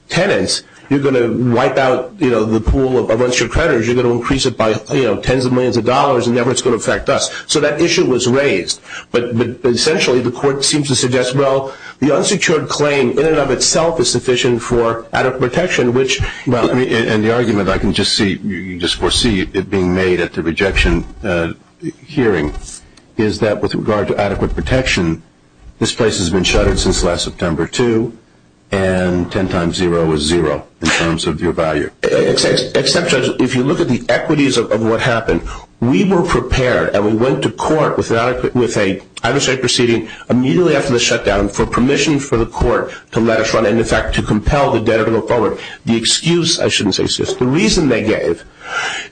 tenants, you're going to wipe out the pool of a bunch of creditors, you're going to increase it by tens of millions of dollars and never it's going to affect us. So that issue was raised, but essentially the court seems to suggest, well, the unsecured claim in and of itself is sufficient for adequate protection, which... And the argument, I can just see, you just foresee it being made at the rejection hearing, is that with regard to adequate protection, this place has been shuttered since last September, too, and ten times zero is zero in terms of your value. Except, Judge, if you look at the equities of what happened, we were prepared and we went to court with a, I would say, proceeding immediately after the shutdown for permission for the court to let us run and, in fact, to compel the debtor to go forward. The excuse, I shouldn't say excuse, the reason they gave,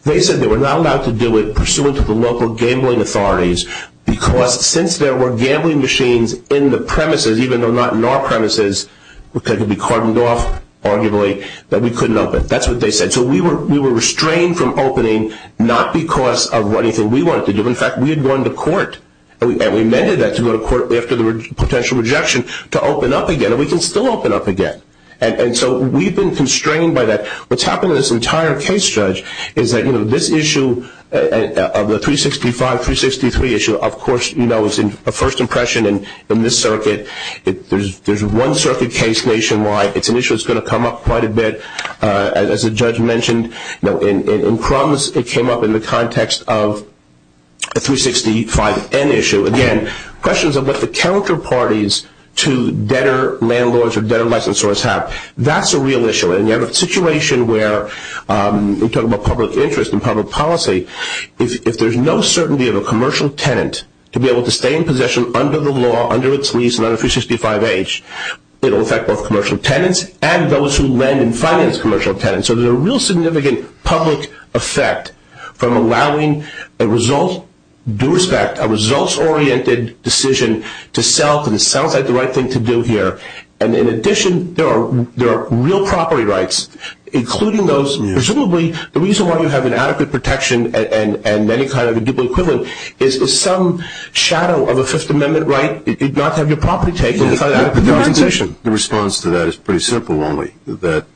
they said they were not allowed to do it pursuant to the local gambling authorities because since there were gambling machines in the premises, even though not in our premises, because it would be cordoned off, arguably, that we couldn't open. That's what they said. So we were restrained from opening not because of anything we wanted to do. In fact, we had gone to court and we mandated that to go to court after the potential rejection to open up again. And we can still open up again. And so we've been constrained by that. What's happened to this entire case, Judge, is that this issue of the 365, 363 issue, of course, you know, it's a first impression in this circuit. There's one circuit case nationwide. It's an issue that's going to come up quite a bit, as the judge mentioned. In promise, it came up in the context of a 365N issue. Again, questions about the counterparties to debtor landlords or debtor less than source have. That's a real issue. And we have a situation where we're talking about public interest and public policy. If there's no certainty of a commercial tenant to be able to stay in possession under the law, it will affect both commercial tenants and those who lend and finance commercial tenants. So there's a real significant public effect from allowing a result, due respect, a results-oriented decision to self, and self had the right thing to do here. And in addition, there are real property rights, including those, presumably, the reason why we have an adequate protection and many kind of equal equivalent is the If you have some shadow of a Fifth Amendment right, you do not have your property taken. The response to that is pretty simple only, that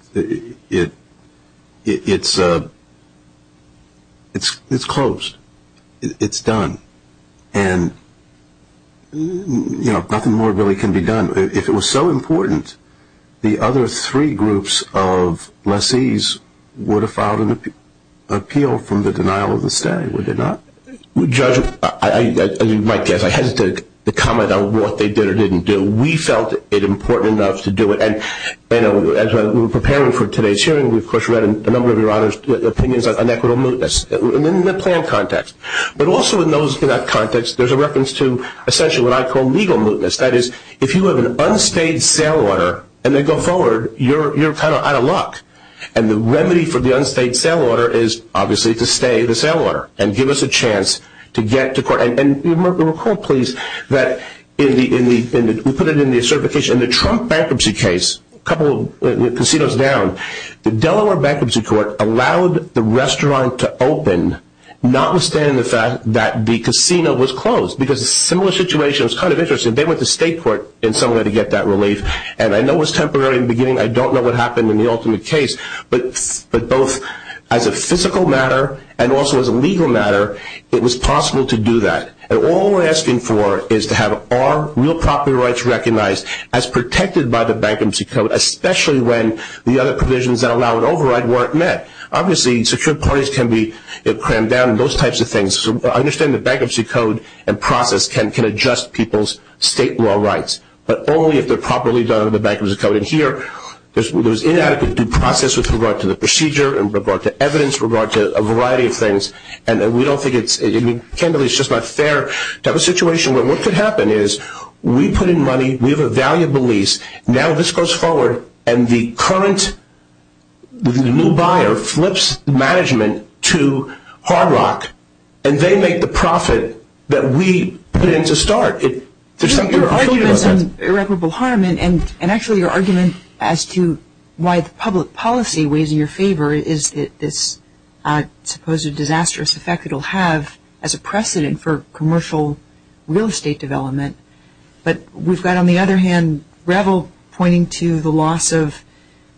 it's closed. It's done. And, you know, nothing more really can be done. If it was so important, the other three groups of lessees would have filed an appeal from the denial of the stay. Would they not? Judge, as you might guess, I hesitate to comment on what they did or didn't do. We felt it important enough to do it. And, you know, as we were preparing for today's hearing, we, of course, read a number of your others' opinions on equitable mootness in the plan context. But also in that context, there's a reference to essentially what I call legal mootness. That is, if you have an unstayed sale order and they go forward, you're kind of out of luck. And the remedy for the unstayed sale order is, obviously, to stay the sale order and give us a chance to get to court. And recall, please, that we put it in the certification. In the Trump bankruptcy case, a couple of casinos down, the Delaware Bankruptcy Court allowed the restaurant to open, notwithstanding the fact that the casino was closed. Because a similar situation was kind of interesting. They went to state court in some way to get that relief. And I know it was temporary in the beginning. I don't know what happened in the ultimate case. But both as a physical matter and also as a legal matter, it was possible to do that. And all we're asking for is to have our real property rights recognized as protected by the Bankruptcy Code, especially when the other provisions that allow an override weren't met. Obviously, secure parties can be crammed down and those types of things. I understand the Bankruptcy Code and process can adjust people's state law rights, but only if they're properly done under the Bankruptcy Code. And here, there's inadequate due process with regard to the procedure, with regard to evidence, with regard to a variety of things. And we don't think it's – we can't believe it's just not fair to have a situation where what could happen is we put in money, we have a valuable lease, now this goes forward, and the current new buyer flips management to Hard Rock, and they make the profit that we put in to start. Your argument is an irreparable harm. And actually, your argument as to why the public policy weighs in your favor is that this supposed disastrous effect it'll have as a precedent for commercial real estate development. But we've got, on the other hand, Revel pointing to the loss of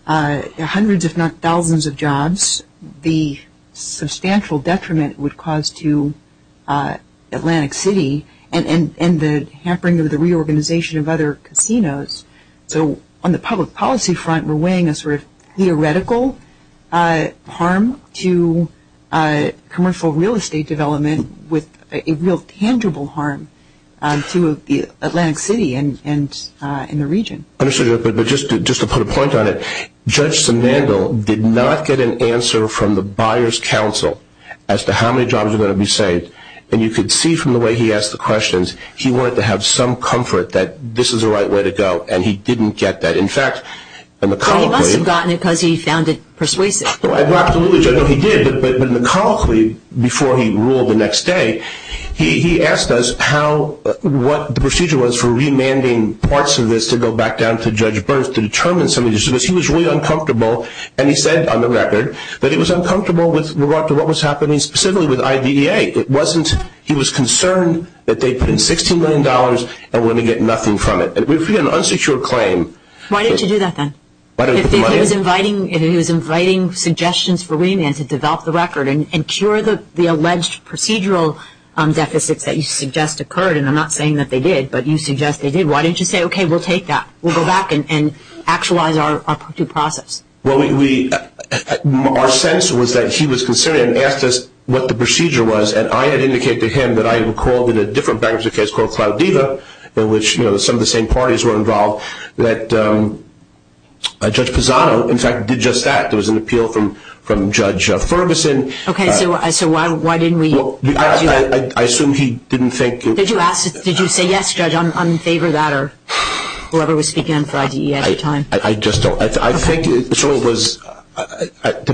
hundreds if not thousands of jobs, the substantial detriment it would cause to Atlantic City, and the hampering of the reorganization of other casinos. So, on the public policy front, we're weighing a sort of theoretical harm to commercial real estate development with a real tangible harm to Atlantic City and the region. I understand that, but just to put a point on it, Judge Sanando did not get an answer from the Buyer's Council as to how many jobs are going to be saved. And you could see from the way he asked the questions, he wanted to have some comfort that this was the right way to go, and he didn't get that. In fact, McConaughey- But he must have gotten it because he sounded persuasive. Well, absolutely. I know he did, but McConaughey, before he ruled the next day, he asked us what the procedure was for remanding parts of this to go back down to Judge Burns to determine some of the issues. He was really uncomfortable, and he said, on the record, that he was uncomfortable with what was happening specifically with IDEA. It wasn't he was concerned that they'd put in $16 million and wouldn't get nothing from it. If you had an unsecure claim- Why didn't you do that, then? Why didn't you put the money in? Because he was inviting suggestions for remand to develop the record and cure the alleged procedural deficits that you suggest occurred, and I'm not saying that they did, but you suggest they did. Why didn't you say, okay, we'll take that? We'll go back and actualize our pursuit process. Well, our sense was that he was concerned and asked us what the procedure was, and I had indicated to him that I recalled in a different bankers' case called Claudida, in which some of the same parties were involved, that Judge Pisano, in fact, did just that. There was an appeal from Judge Ferguson. Okay, so why didn't we- I assume he didn't think- Did you say yes, Judge, on favor of that, or whoever was speaking on Friday at the time? I just don't- I think it was sort of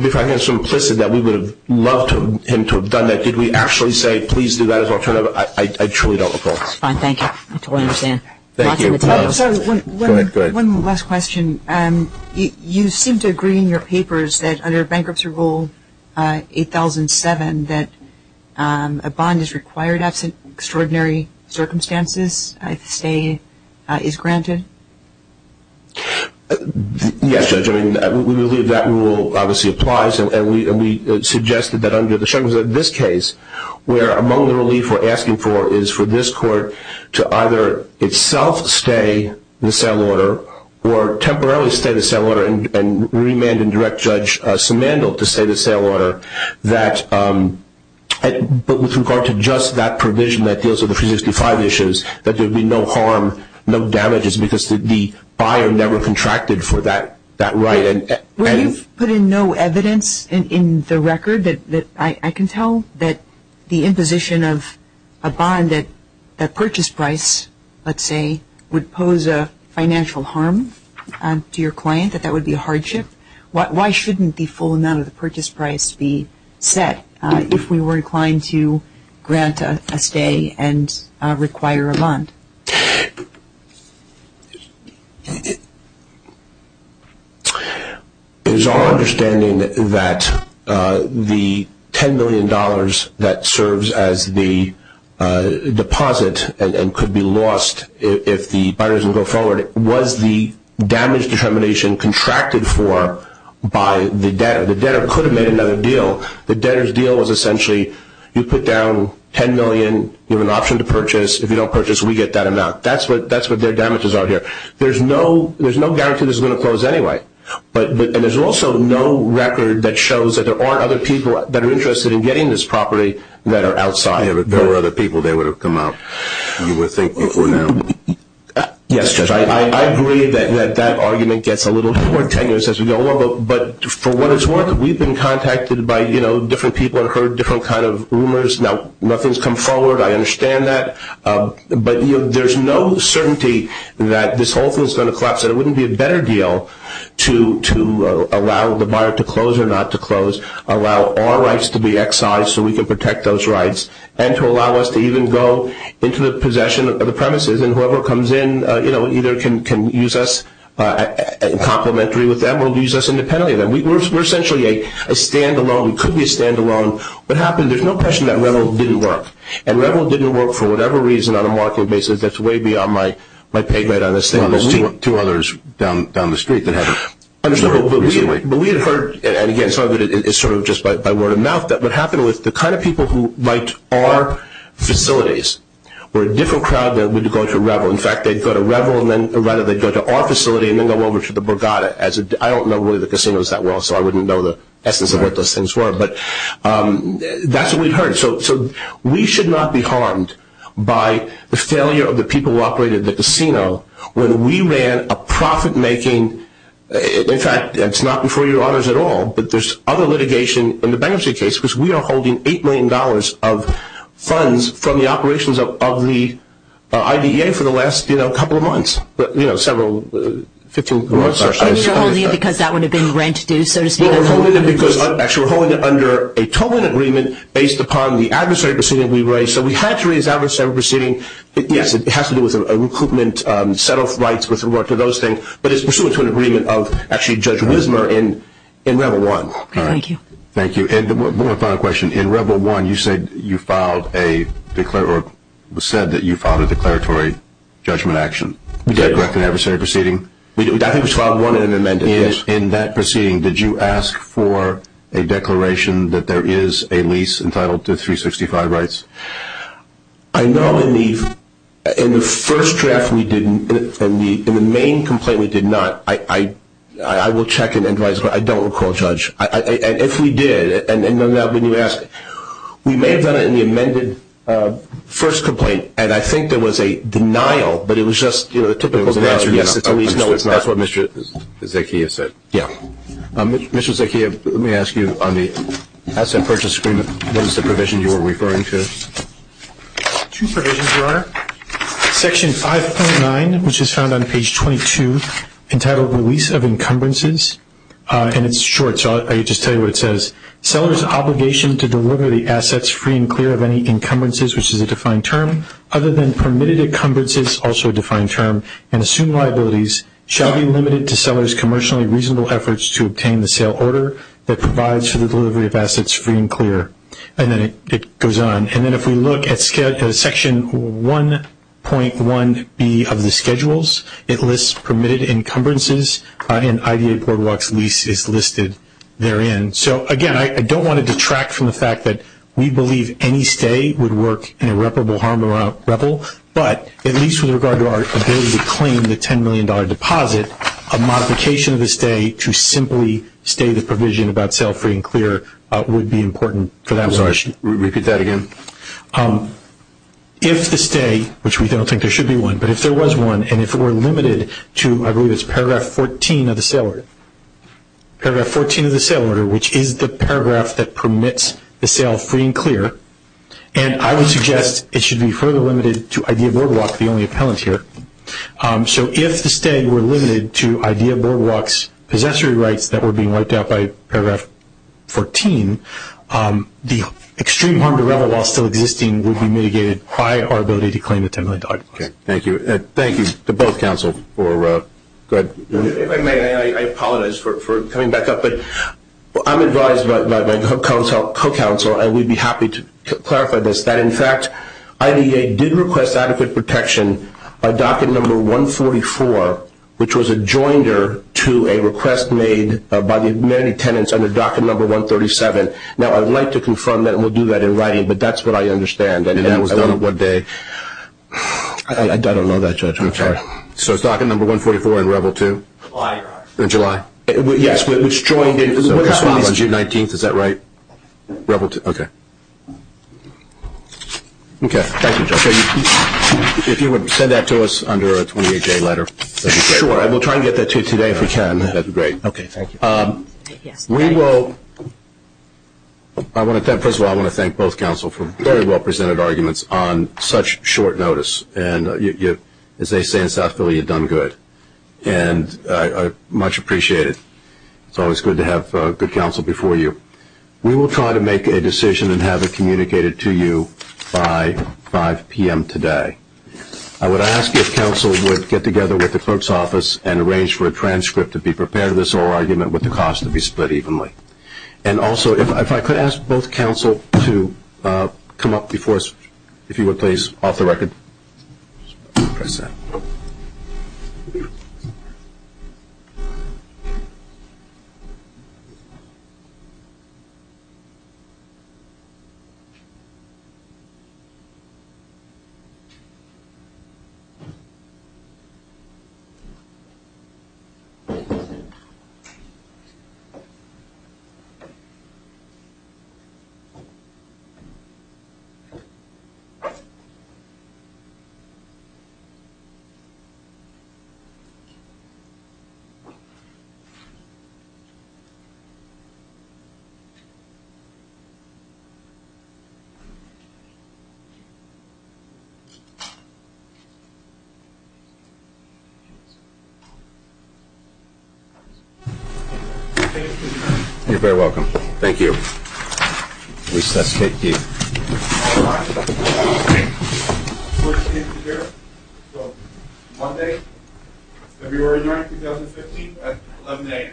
implicit that we would have loved him to have done that. Did we actually say, please do that as an alternative? I truly don't recall. That's fine. Thank you. I totally understand. Thank you. Go ahead. One last question. You seem to agree in your papers that under Bankruptcy Rule 8007, that a bond is required after extraordinary circumstances, a stay is granted? Yes, Judge, I mean, we believe that rule obviously applies, and we suggested that under this case, where among the relief we're asking for is for this court to either itself stay in the sale order or temporarily stay in the sale order and remand and direct Judge Simandl to stay in the sale order, that with regard to just that provision that deals with the 365 issues, that there'd be no harm, no damages, because the buyer never contracted for that right. Were you put in no evidence in the record? I can tell that the imposition of a bond at a purchase price, let's say, would pose a financial harm to your client, that that would be a hardship. Why shouldn't the full amount of the purchase price be set if we were inclined to grant a stay and require a bond? It is our understanding that the $10 million that serves as the deposit and could be lost if the buyers will go forward, was the damage determination contracted for by the debtor? The debtor could have made another deal. The debtor's deal was essentially you put down $10 million, you have an option to purchase. If you don't purchase, we get that amount. That's what their damages are here. There's no guarantee this is going to close anyway, and there's also no record that shows that there are other people that are interested in getting this property that are outside. If there were other people, they would have come out, you would think, before now. Yes, Judge, I agree that that argument gets a little more tenuous as we go along, but for what it's worth, nothing's come forward, I understand that, but there's no certainty that this whole thing is going to collapse. It wouldn't be a better deal to allow the buyer to close or not to close, allow our rights to be excised so we can protect those rights, and to allow us to even go into the possession of the premises, and whoever comes in either can use us complimentary with them or use us independently. We're essentially a standalone. We could be a standalone. What happens, there's no question that Revel didn't work, and Revel didn't work for whatever reason on a market basis that's way beyond my pay grade on this thing. There's two others down the street that have. But we had heard, and again, it's sort of just by word of mouth, that what happened was the kind of people who liked our facilities were a different crowd than would go to Revel. In fact, they'd go to Revel and then rather they'd go to our facility and then go over to the Borgata. I don't know really the casinos that well, so I wouldn't know the essence of what those things were, but that's what we've heard. So we should not be harmed by the failure of the people who operated the casino when we ran a profit-making, in fact, it's not before your honors at all, but there's other litigation in the bankruptcy case because we are holding $8 million of funds from the operations of the IDEA for the last couple of months, several, 15 months, I'm sorry. So you're holding it because that would have been rent due, so to speak? No, we're holding it because, actually, we're holding it under a total agreement based upon the administrative proceeding we raised. So we had three of these administrative proceedings. Yes, it has to do with recoupment, settle rights, those things, but it's pursuant to an agreement of actually Judge Wisner and Revel 1. All right. Thank you. Thank you. And one final question. In Revel 1, you said that you filed a declaratory judgment action. We did. Was that a direct and adversary proceeding? I think we filed one amendment. In that proceeding, did you ask for a declaration that there is a lease entitled to 365 rights? I know in the first draft we did, in the main complaint we did not. I will check it, but I don't recall, Judge. If we did, and none of that, would you ask? We may have done it in the amended first complaint, and I think there was a denial, but it was just typical. No, it's not. That's what Mr. Zakia said. Yeah. Mr. Zakia, let me ask you on the asset purchase agreement, what is the provision you were referring to? Two provisions, Your Honor. Section 5.9, which is found on page 22, entitled Lease of Encumbrances, and it's short, so I'll just tell you what it says. Sellers' obligation to deliver the assets free and clear of any encumbrances, which is a defined term, other than permitted encumbrances, also a defined term, and assumed liabilities, shall be limited to sellers' commercially reasonable efforts to obtain the sale order that provides for the delivery of assets free and clear. And then it goes on. And then if we look at Section 1.1B of the schedules, it lists permitted encumbrances, and IDA boardwalk lease is listed therein. So, again, I don't want to detract from the fact that we believe any stay would work in irreparable harm or rebel, but at least with regard to our ability to claim the $10 million deposit, a modification of the stay to simply stay the provision about sale free and clear would be important for that. So I'll just repeat that again. If the stay, which we don't think there should be one, but if there was one, and if it were limited to, I believe it's Paragraph 14 of the sale order, Paragraph 14 of the sale order, which is the paragraph that permits the sale free and clear, and I would suggest it should be further limited to IDA boardwalk, the only appellant here. So if the stay were limited to IDA boardwalk's possessory rights that were being wiped out by Paragraph 14, the extreme harm to rebel while still existing would be mitigated by our ability to claim the $10 million deposit. Okay. Thank you. And thank you to both counsels. If I may, I apologize for coming back up, but I'm advised by my co-counsel, and we'd be happy to clarify this, that, in fact, IDA did request adequate protection of Docket Number 144, which was a joinder to a request made by the many tenants under Docket Number 137. Now, I'd like to confirm that, and we'll do that in writing, but that's what I understand. And that was done on what day? I don't know that, Judge. Okay. So it's Docket Number 144 in Rebel 2? In July. In July. Yes. On June 19th. Is that right? Rebel 2. Okay. Okay. Thank you, Judge. If you would send that to us under a 28-day letter. Sure. We'll try to get that to you today if we can. That's great. Okay. Thank you. We will – first of all, I want to thank both counsel for very well-presented arguments on such short notice. And as they say in South Philly, you've done good. And I much appreciate it. It's always good to have good counsel before you. We will try to make a decision and have it communicated to you by 5 p.m. today. I would ask if counsel would get together with the folks' office and arrange for a transcript to be prepared for this oral argument with the cost to be split evenly. And also, if I could ask both counsel to come up before us, if you would, please, off the record. Thank you. You're very welcome. Thank you. We shall take these. Monday, February 9, 2015 at 11 a.m.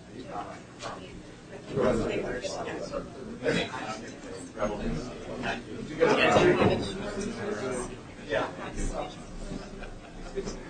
Monday, February 9, 2015 at 11 a.m. Monday, February 9, 2015 at 11 a.m. Monday, February 9, 2015 at 11 a.m. Monday, February 9, 2015 at 11 a.m. Monday, February 9, 2015 at 11 a.m. Monday, February 9, 2015 at 11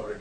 a.m.